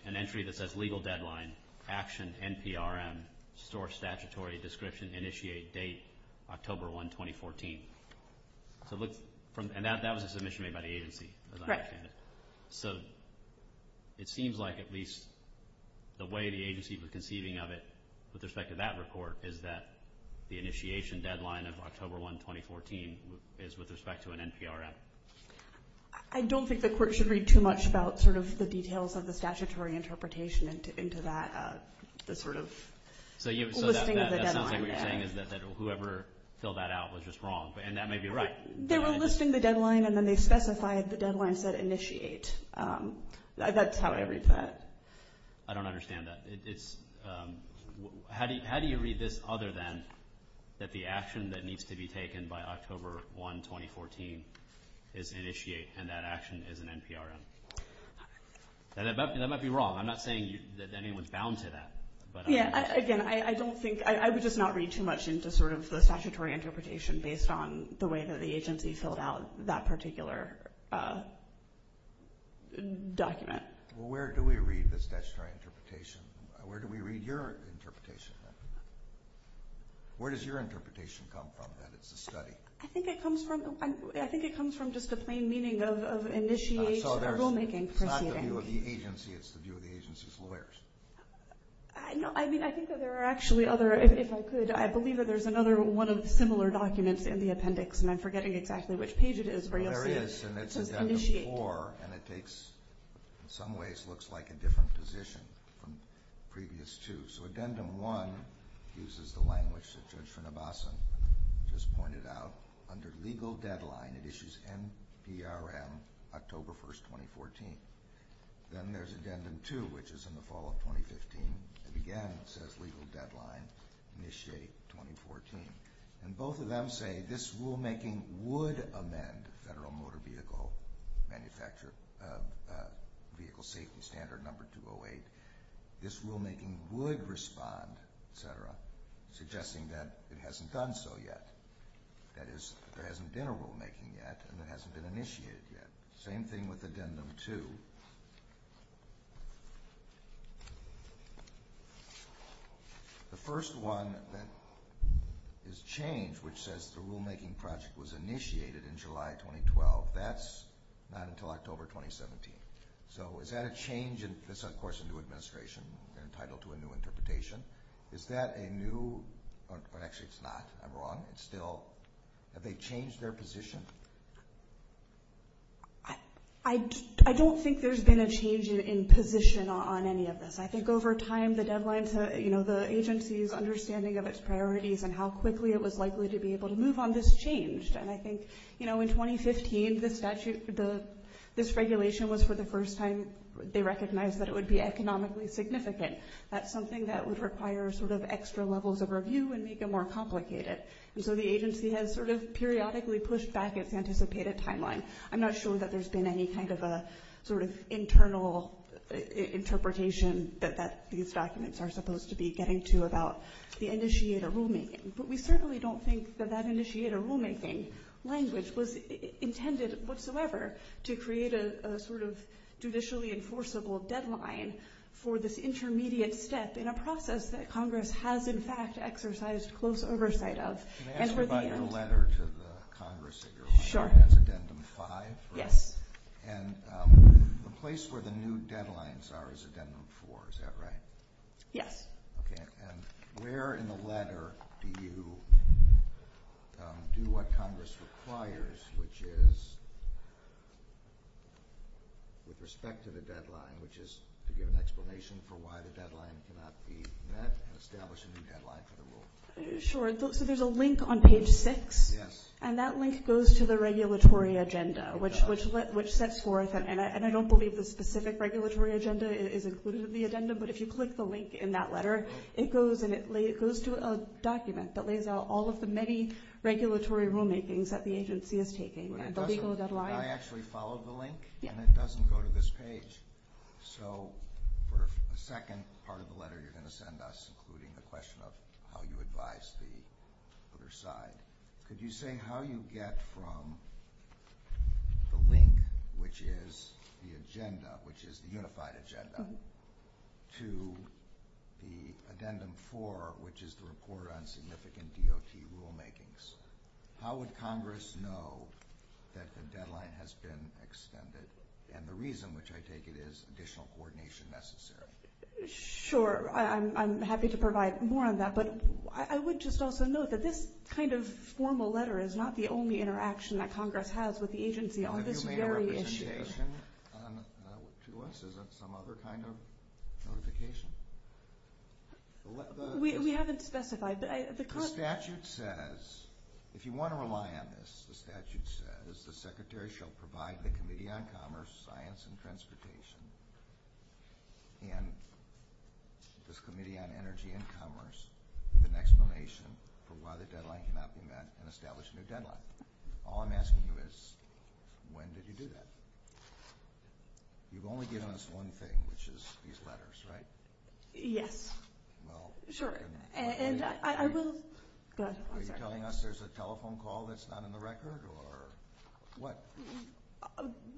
an entry that says legal deadline, action NPRM, store statutory description, initiate date October 1, 2014. And that was a submission made by the agency. So it seems like at least the way the agency was conceiving of it with respect to that report is that the initiation deadline of October 1, 2014 is with respect to an NPRM. I don't think the court should read too much about sort of the details of the statutory interpretation into that, the sort of listing of the deadline. So that sounds like what you're saying is that whoever filled that out was just wrong, and that may be right. They were listing the deadline, and then they specified the deadlines that initiate. That's how I read that. I don't understand that. How do you read this other than that the action that needs to be taken by October 1, 2014 is initiate, and that action is an NPRM? That might be wrong. I'm not saying that anyone's bound to that. Again, I would just not read too much into sort of the statutory interpretation based on the way that the agency filled out that particular document. Well, where do we read this statutory interpretation? Where do we read your interpretation? Where does your interpretation come from that it's a study? I think it comes from just a plain meaning of initiate or rulemaking. So it's not the view of the agency. It's the view of the agency's lawyers. No, I mean I think that there are actually other, if I could, I believe that there's another one of similar documents in the appendix, and I'm forgetting exactly which page it is, but you'll see it. Yes, and it's addendum 4, and it takes, in some ways, looks like a different position from previous two. So addendum 1 uses the language that Judge Srinivasan just pointed out. Under legal deadline, it issues NPRM October 1, 2014. Then there's addendum 2, which is in the fall of 2015. Again, it says legal deadline, initiate 2014. And both of them say this rulemaking would amend Federal Motor Vehicle Safety Standard number 208. This rulemaking would respond, et cetera, suggesting that it hasn't done so yet. That is, there hasn't been a rulemaking yet, and it hasn't been initiated yet. Same thing with addendum 2. The first one is change, which says the rulemaking project was initiated in July 2012. That's not until October 2017. So is that a change in, this is, of course, a new administration. They're entitled to a new interpretation. Is that a new, or actually it's not. I'm wrong. It's still, have they changed their position? I don't think there's been a change in position on any of this. I think over time, the deadlines, you know, the agency's understanding of its priorities and how quickly it was likely to be able to move on this changed. And I think, you know, in 2015, this statute, this regulation was for the first time they recognized that it would be economically significant. That's something that would require sort of extra levels of review and make it more complicated. And so the agency has sort of periodically pushed back its anticipated timeline. I'm not sure that there's been any kind of a sort of internal interpretation that these documents are supposed to be getting to about the initiator rulemaking. But we certainly don't think that that initiator rulemaking language was intended whatsoever to create a sort of judicially enforceable deadline for this intermediate step in a process that Congress has in fact exercised close oversight of. Can I ask about your letter to the Congress? Sure. That's Addendum 5? Yes. And the place where the new deadlines are is Addendum 4, is that right? Yes. Okay. And where in the letter do you do what Congress requires, which is with respect to the deadline, which is to give an explanation for why the deadline cannot be met and establish a new deadline for the rule? Sure. So there's a link on page 6. Yes. And that link goes to the regulatory agenda, which sets forth, and I don't believe the specific regulatory agenda is included in the addendum, but if you click the link in that letter, it goes to a document that lays out all of the many regulatory rulemakings that the agency is taking and the legal deadline. Did I actually follow the link? Yes. And it doesn't go to this page. So for the second part of the letter you're going to send us, including the question of how you advise the other side, could you say how you get from the link, which is the agenda, which is the unified agenda, to the Addendum 4, which is the report on significant DOT rulemakings. How would Congress know that the deadline has been extended and the reason which I take it is additional coordination necessary? Sure. I'm happy to provide more on that, but I would just also note that this kind of formal letter is not the only interaction that Congress has with the agency on this very issue. Have you made a representation to us? Is that some other kind of notification? We haven't specified. The statute says, if you want to rely on this, the statute says the Secretary shall provide the Committee on Commerce, Science and Transportation, and this Committee on Energy and Commerce with an explanation for why the deadline cannot be met and establish a new deadline. All I'm asking you is when did you do that? You've only given us one thing, which is these letters, right? Yes. Are you telling us there's a telephone call that's not in the record or what?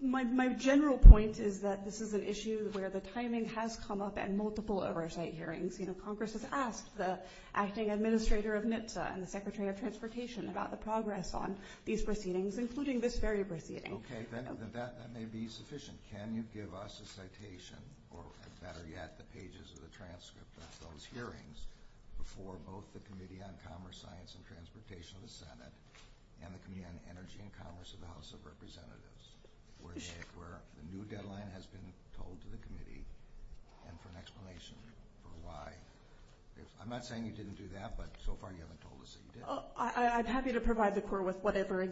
My general point is that this is an issue where the timing has come up at multiple oversight hearings. Congress has asked the acting administrator of NHTSA and the Secretary of Transportation about the progress on these proceedings, including this very proceeding. Okay. That may be sufficient. Can you give us a citation, or better yet, the pages of the transcript of those hearings before both the Committee on Commerce, Science and Transportation of the Senate and the Committee on Energy and Commerce of the House of Representatives where the new deadline has been told to the Committee and for an explanation for why. I'm not saying you didn't do that, but so far you haven't told us that you did. I'm happy to provide the court with whatever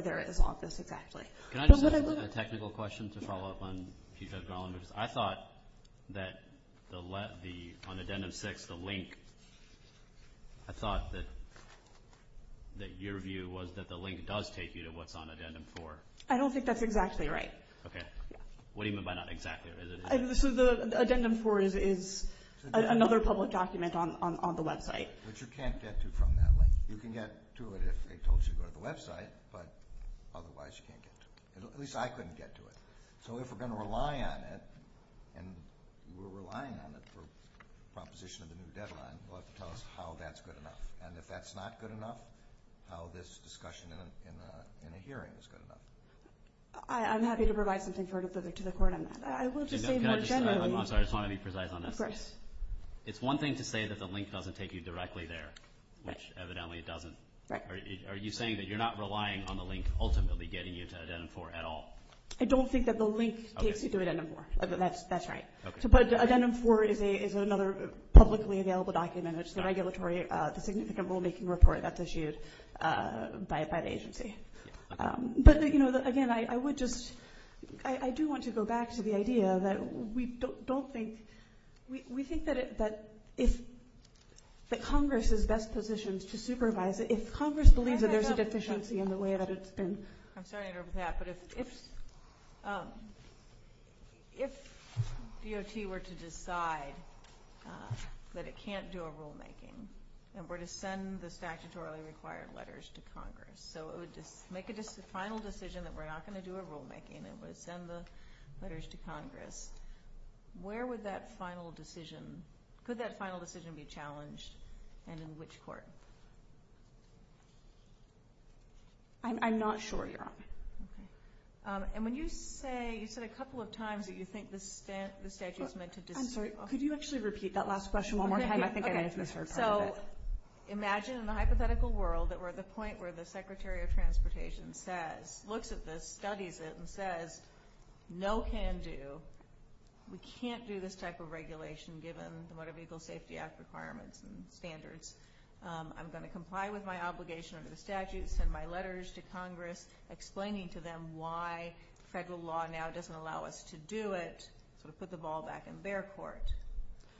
there is on this exactly. Can I just ask a technical question to follow up on Chief Judge Garland? Because I thought that on Addendum 6, the link, I thought that your view was that the link does take you to what's on Addendum 4. I don't think that's exactly right. Okay. What do you mean by not exactly? Addendum 4 is another public document on the website. But you can't get to it from that link. You can get to it if they told you to go to the website, but otherwise you can't get to it. At least I couldn't get to it. So if we're going to rely on it, and we're relying on it for proposition of the new deadline, we'll have to tell us how that's good enough. And if that's not good enough, how this discussion in a hearing is good enough. I'm happy to provide something further to the court on that. I will just say more generally. I'm sorry, I just want to be precise on this. Of course. It's one thing to say that the link doesn't take you directly there, which evidently it doesn't. Are you saying that you're not relying on the link ultimately getting you to Addendum 4 at all? I don't think that the link takes you to Addendum 4. That's right. But Addendum 4 is another publicly available document. It's the regulatory, the significant rulemaking report that's issued by the agency. But, you know, again, I would just – I do want to go back to the idea that we don't think – we think that if – that Congress is best positioned to supervise it. If Congress believes that there's a deficiency in the way that it's been – I'm sorry to interrupt with that. But if DOT were to decide that it can't do a rulemaking and were to send the statutorily required letters to Congress, so it would make a final decision that we're not going to do a rulemaking and would send the letters to Congress, where would that final decision – could that final decision be challenged and in which court? I'm not sure, Your Honor. Okay. And when you say – you said a couple of times that you think the statute is meant to – I'm sorry. Could you actually repeat that last question one more time? I think I may have misheard part of it. Okay. So imagine in a hypothetical world that we're at the point where the Secretary of Transportation says – we can't do this type of regulation given the Motor Vehicle Safety Act requirements and standards. I'm going to comply with my obligation under the statute, send my letters to Congress explaining to them why federal law now doesn't allow us to do it, sort of put the ball back in their court,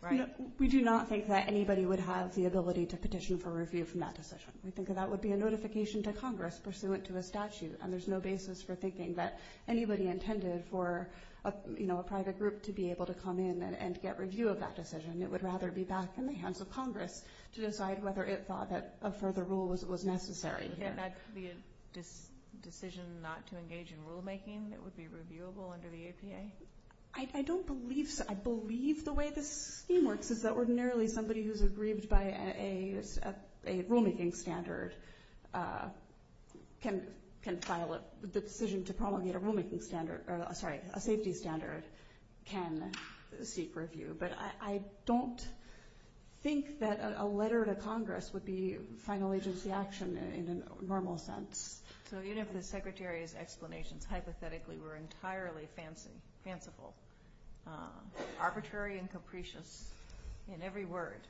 right? We do not think that anybody would have the ability to petition for review from that decision. We think that that would be a notification to Congress pursuant to a statute, and there's no basis for thinking that anybody intended for, you know, a private group to be able to come in and get review of that decision. It would rather be back in the hands of Congress to decide whether it thought that a further rule was necessary. Wouldn't that be a decision not to engage in rulemaking that would be reviewable under the APA? I don't believe – I believe the way this scheme works is that ordinarily somebody who's aggrieved by a rulemaking standard can file – the decision to promulgate a rulemaking standard – sorry, a safety standard can seek review. But I don't think that a letter to Congress would be final agency action in a normal sense. So even if the Secretary's explanations hypothetically were entirely fanciful, arbitrary and capricious, in every word,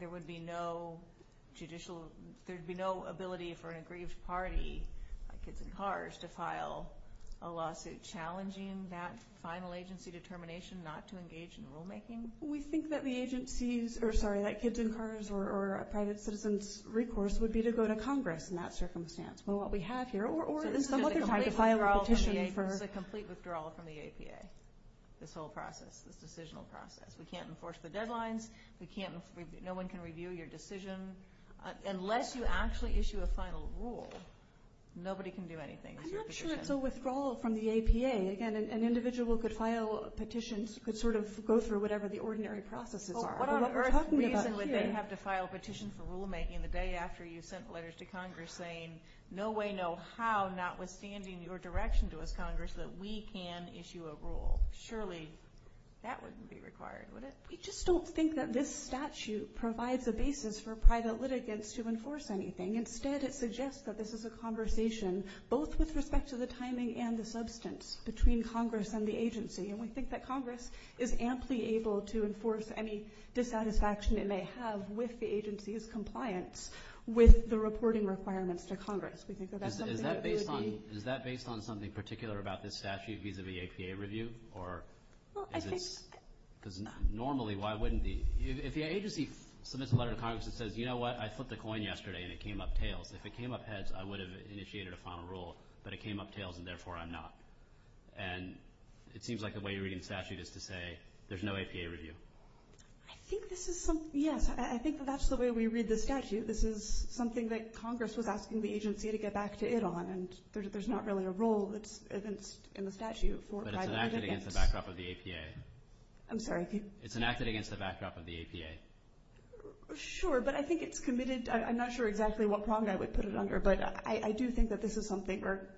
there would be no judicial – there would be no ability for an aggrieved party, like Kids in Cars, to file a lawsuit challenging that final agency determination not to engage in rulemaking. We think that the agency's – or, sorry, that Kids in Cars or a private citizen's recourse would be to go to Congress in that circumstance. Well, what we have here – or there's some other time to file a petition for – there's a complete withdrawal from the APA, this whole process, this decisional process. We can't enforce the deadlines. We can't – no one can review your decision. Unless you actually issue a final rule, nobody can do anything. I'm not sure it's a withdrawal from the APA. Again, an individual could file petitions, could sort of go through whatever the ordinary processes are. Well, what on earth reason would they have to file a petition for rulemaking the day after you sent letters to Congress saying no way, no how, notwithstanding your direction to us, Congress, that we can issue a rule? Surely that wouldn't be required, would it? We just don't think that this statute provides a basis for private litigants to enforce anything. Instead, it suggests that this is a conversation both with respect to the timing and the substance between Congress and the agency. And we think that Congress is amply able to enforce any dissatisfaction it may have with the agency's compliance with the reporting requirements to Congress. Is that based on something particular about this statute vis-a-vis APA review? Normally, why wouldn't the – if the agency submits a letter to Congress and says, you know what, I flipped a coin yesterday and it came up tails. If it came up heads, I would have initiated a final rule, but it came up tails and therefore I'm not. And it seems like the way you're reading the statute is to say there's no APA review. I think this is some – yes, I think that that's the way we read the statute. This is something that Congress was asking the agency to get back to it on, and there's not really a role that's evinced in the statute for private litigants. But it's enacted against the backdrop of the APA. I'm sorry? It's enacted against the backdrop of the APA. Sure, but I think it's committed – I'm not sure exactly what prong I would put it under, but I do think that this is something where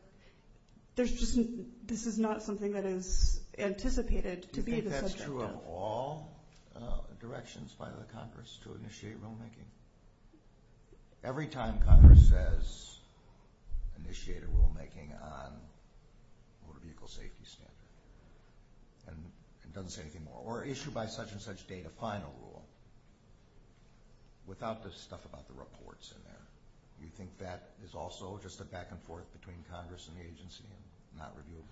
there's just – this is not something that is anticipated to be the subject of. Are there at all directions by the Congress to initiate rulemaking? Every time Congress says initiate a rulemaking on a motor vehicle safety standard and doesn't say anything more, or issue by such-and-such date a final rule, without the stuff about the reports in there, do you think that is also just a back and forth between Congress and the agency and not reviewable?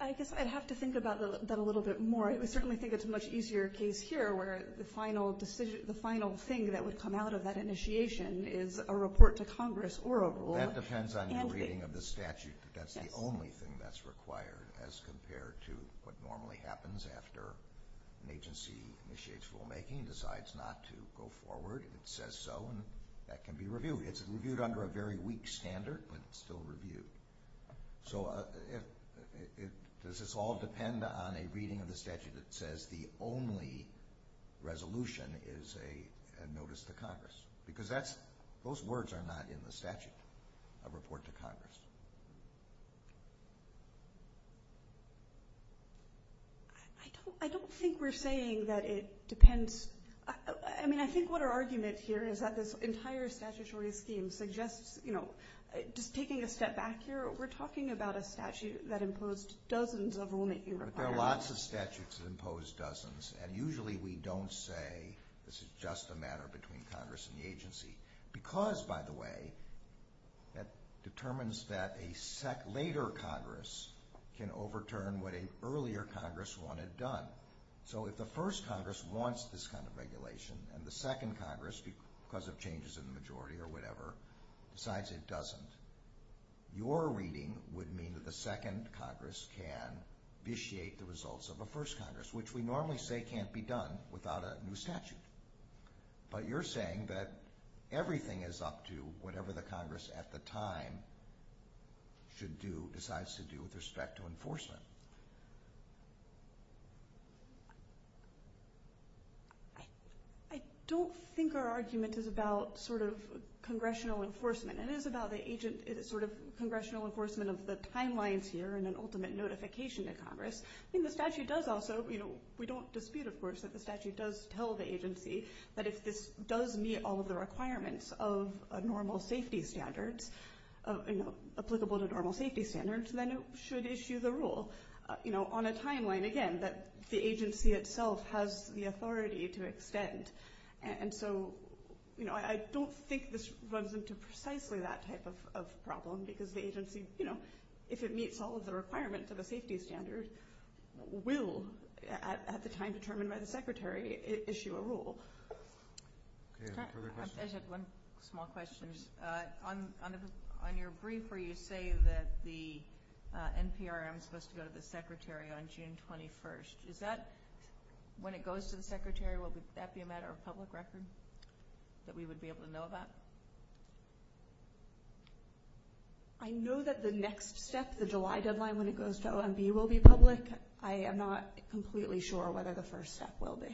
I guess I'd have to think about that a little bit more. I certainly think it's a much easier case here, where the final thing that would come out of that initiation is a report to Congress or a rule. That depends on your reading of the statute. That's the only thing that's required as compared to what normally happens after an agency initiates rulemaking and decides not to go forward. It says so, and that can be reviewed. It's reviewed under a very weak standard, but it's still reviewed. So does this all depend on a reading of the statute that says the only resolution is a notice to Congress? Because those words are not in the statute, a report to Congress. I don't think we're saying that it depends. I think what our argument here is that this entire statutory scheme suggests just taking a step back here, we're talking about a statute that imposed dozens of rulemaking requirements. But there are lots of statutes that impose dozens, and usually we don't say this is just a matter between Congress and the agency. Because, by the way, that determines that a later Congress can overturn what an earlier Congress wanted done. So if the first Congress wants this kind of regulation, and the second Congress, because of changes in the majority or whatever, decides it doesn't, your reading would mean that the second Congress can vitiate the results of a first Congress, which we normally say can't be done without a new statute. But you're saying that everything is up to whatever the Congress at the time should do, decides to do with respect to enforcement. I don't think our argument is about congressional enforcement. It is about the congressional enforcement of the timelines here and an ultimate notification to Congress. I think the statute does also, we don't dispute, of course, that the statute does tell the agency that if this does meet all of the requirements of normal safety standards, applicable to normal safety standards, then it should issue the rule on a timeline, again, that the agency itself has the authority to extend. And so, you know, I don't think this runs into precisely that type of problem because the agency, you know, if it meets all of the requirements of a safety standard, will, at the time determined by the Secretary, issue a rule. I have one small question. And on your brief where you say that the NPRM is supposed to go to the Secretary on June 21st, is that when it goes to the Secretary, will that be a matter of public record that we would be able to know about? I know that the next step, the July deadline when it goes to OMB, will be public. I am not completely sure whether the first step will be.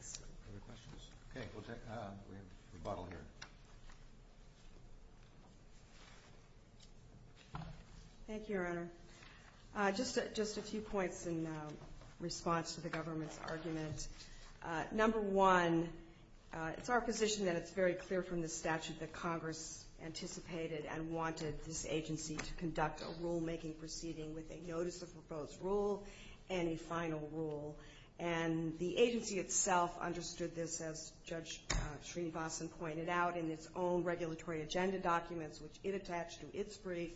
Other questions? Okay, we'll take a rebuttal here. Thank you, Your Honor. Just a few points in response to the government's argument. Number one, it's our position that it's very clear from the statute that Congress anticipated and wanted this agency to conduct a rulemaking proceeding with a notice of proposed rule and a final rule. And the agency itself understood this, as Judge Sreenivasan pointed out, in its own regulatory agenda documents, which it attached to its brief.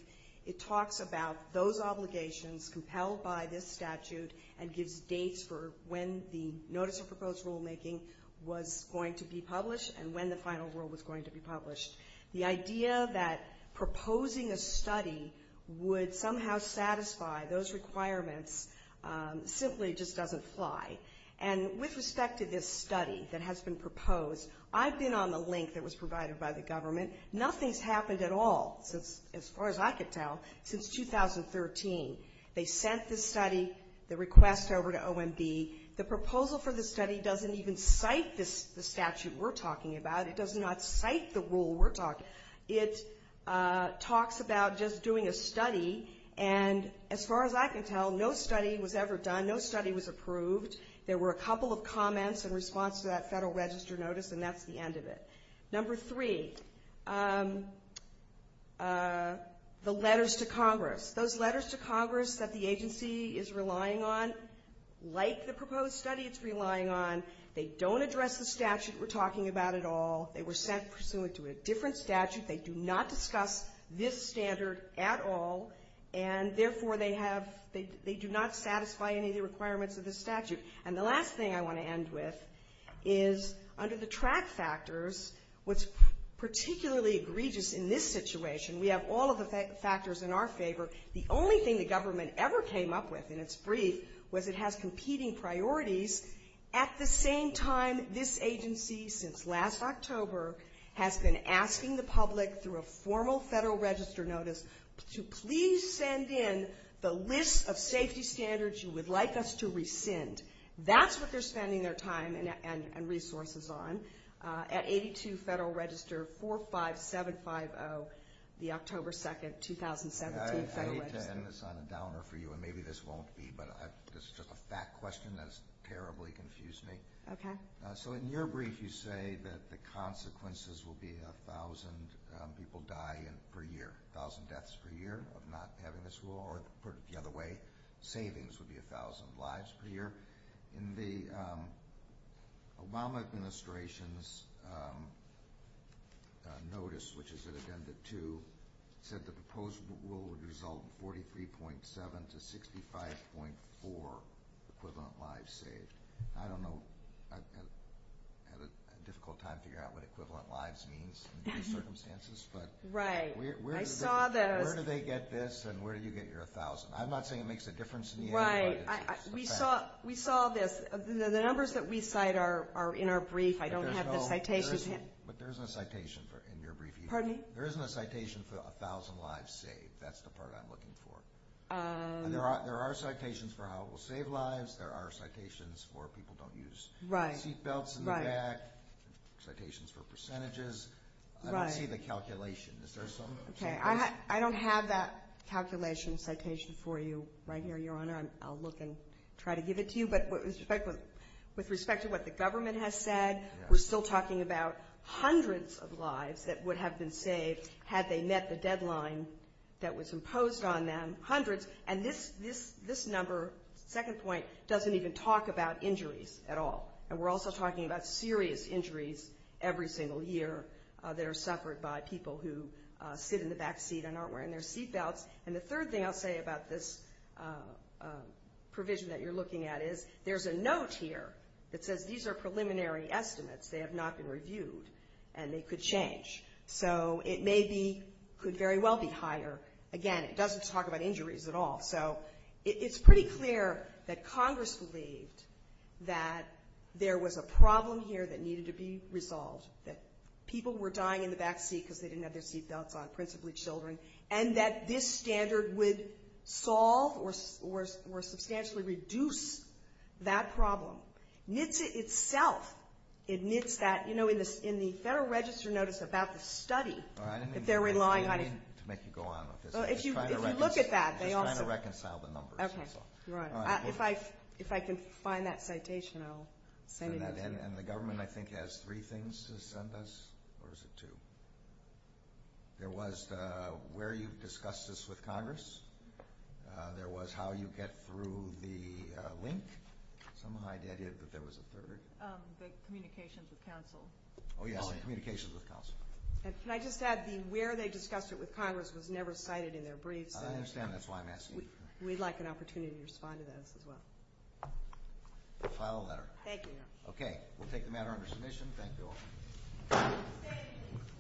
It talks about those obligations compelled by this statute and gives dates for when the notice of proposed rulemaking was going to be published and when the final rule was going to be published. The idea that proposing a study would somehow satisfy those requirements simply just doesn't fly. And with respect to this study that has been proposed, I've been on the link that was provided by the government. Nothing's happened at all, as far as I can tell, since 2013. They sent this study, the request over to OMB. The proposal for the study doesn't even cite the statute we're talking about. It does not cite the rule we're talking about. It talks about just doing a study, and as far as I can tell, no study was ever done. No study was approved. There were a couple of comments in response to that Federal Register notice, and that's the end of it. Number three, the letters to Congress. Those letters to Congress that the agency is relying on, like the proposed study it's relying on, they don't address the statute we're talking about at all. They were sent pursuant to a different statute. They do not discuss this standard at all, and therefore they have they do not satisfy any of the requirements of this statute. And the last thing I want to end with is under the track factors, what's particularly egregious in this situation, we have all of the factors in our favor. The only thing the government ever came up with in its brief was it has competing priorities. At the same time, this agency, since last October, has been asking the public through a formal Federal Register notice to please send in the list of safety standards you would like us to rescind. That's what they're spending their time and resources on at 82 Federal Register 45750, the October 2, 2017 Federal Register. I hate to end this on a downer for you, and maybe this won't be, but this is just a fact question that has terribly confused me. Okay. So in your brief, you say that the consequences will be 1,000 people die per year, 1,000 deaths per year of not having this rule, or put it the other way, savings would be 1,000 lives per year. In the Obama Administration's notice, which is in Agenda 2, it said the proposed rule would result in 43.7 to 65.4 equivalent lives saved. I don't know. I have a difficult time figuring out what equivalent lives means in these circumstances. Right. Where do they get this, and where do you get your 1,000? I'm not saying it makes a difference to me. Right. We saw this. The numbers that we cite are in our brief. I don't have the citations. But there isn't a citation in your brief. Pardon me? There isn't a citation for 1,000 lives saved. That's the part I'm looking for. There are citations for how it will save lives. There are citations for people don't use seatbelts in the back, citations for percentages. I don't see the calculation. Okay. I don't have that calculation citation for you right here, Your Honor. I'll look and try to give it to you. But with respect to what the government has said, we're still talking about hundreds of lives that would have been saved had they met the deadline that was imposed on them. Hundreds. And this number, second point, doesn't even talk about injuries at all. And we're also talking about serious injuries every single year that are suffered by people who sit in the back seat and aren't wearing their seatbelts. And the third thing I'll say about this provision that you're looking at is there's a note here that says these are preliminary estimates. They have not been reviewed, and they could change. So it may be, could very well be higher. But, again, it doesn't talk about injuries at all. So it's pretty clear that Congress believed that there was a problem here that needed to be resolved, that people were dying in the back seat because they didn't have their seatbelts on, principally children, and that this standard would solve or substantially reduce that problem. NHTSA itself admits that, you know, in the Federal Register notice about the study, if they're relying on it. To make you go on. Well, if you look at that, they also. Just trying to reconcile the numbers. Okay. Right. If I can find that citation, I'll send it out to you. And the government, I think, has three things to send us, or is it two? There was the where you've discussed this with Congress. There was how you get through the link. Some hide the idea that there was a third. The communications with counsel. Oh, yes, the communications with counsel. And can I just add the where they discussed it with Congress was never cited in their briefs. I understand. That's why I'm asking. We'd like an opportunity to respond to those as well. File a letter. Thank you. Okay. We'll take the matter under submission. Thank you all.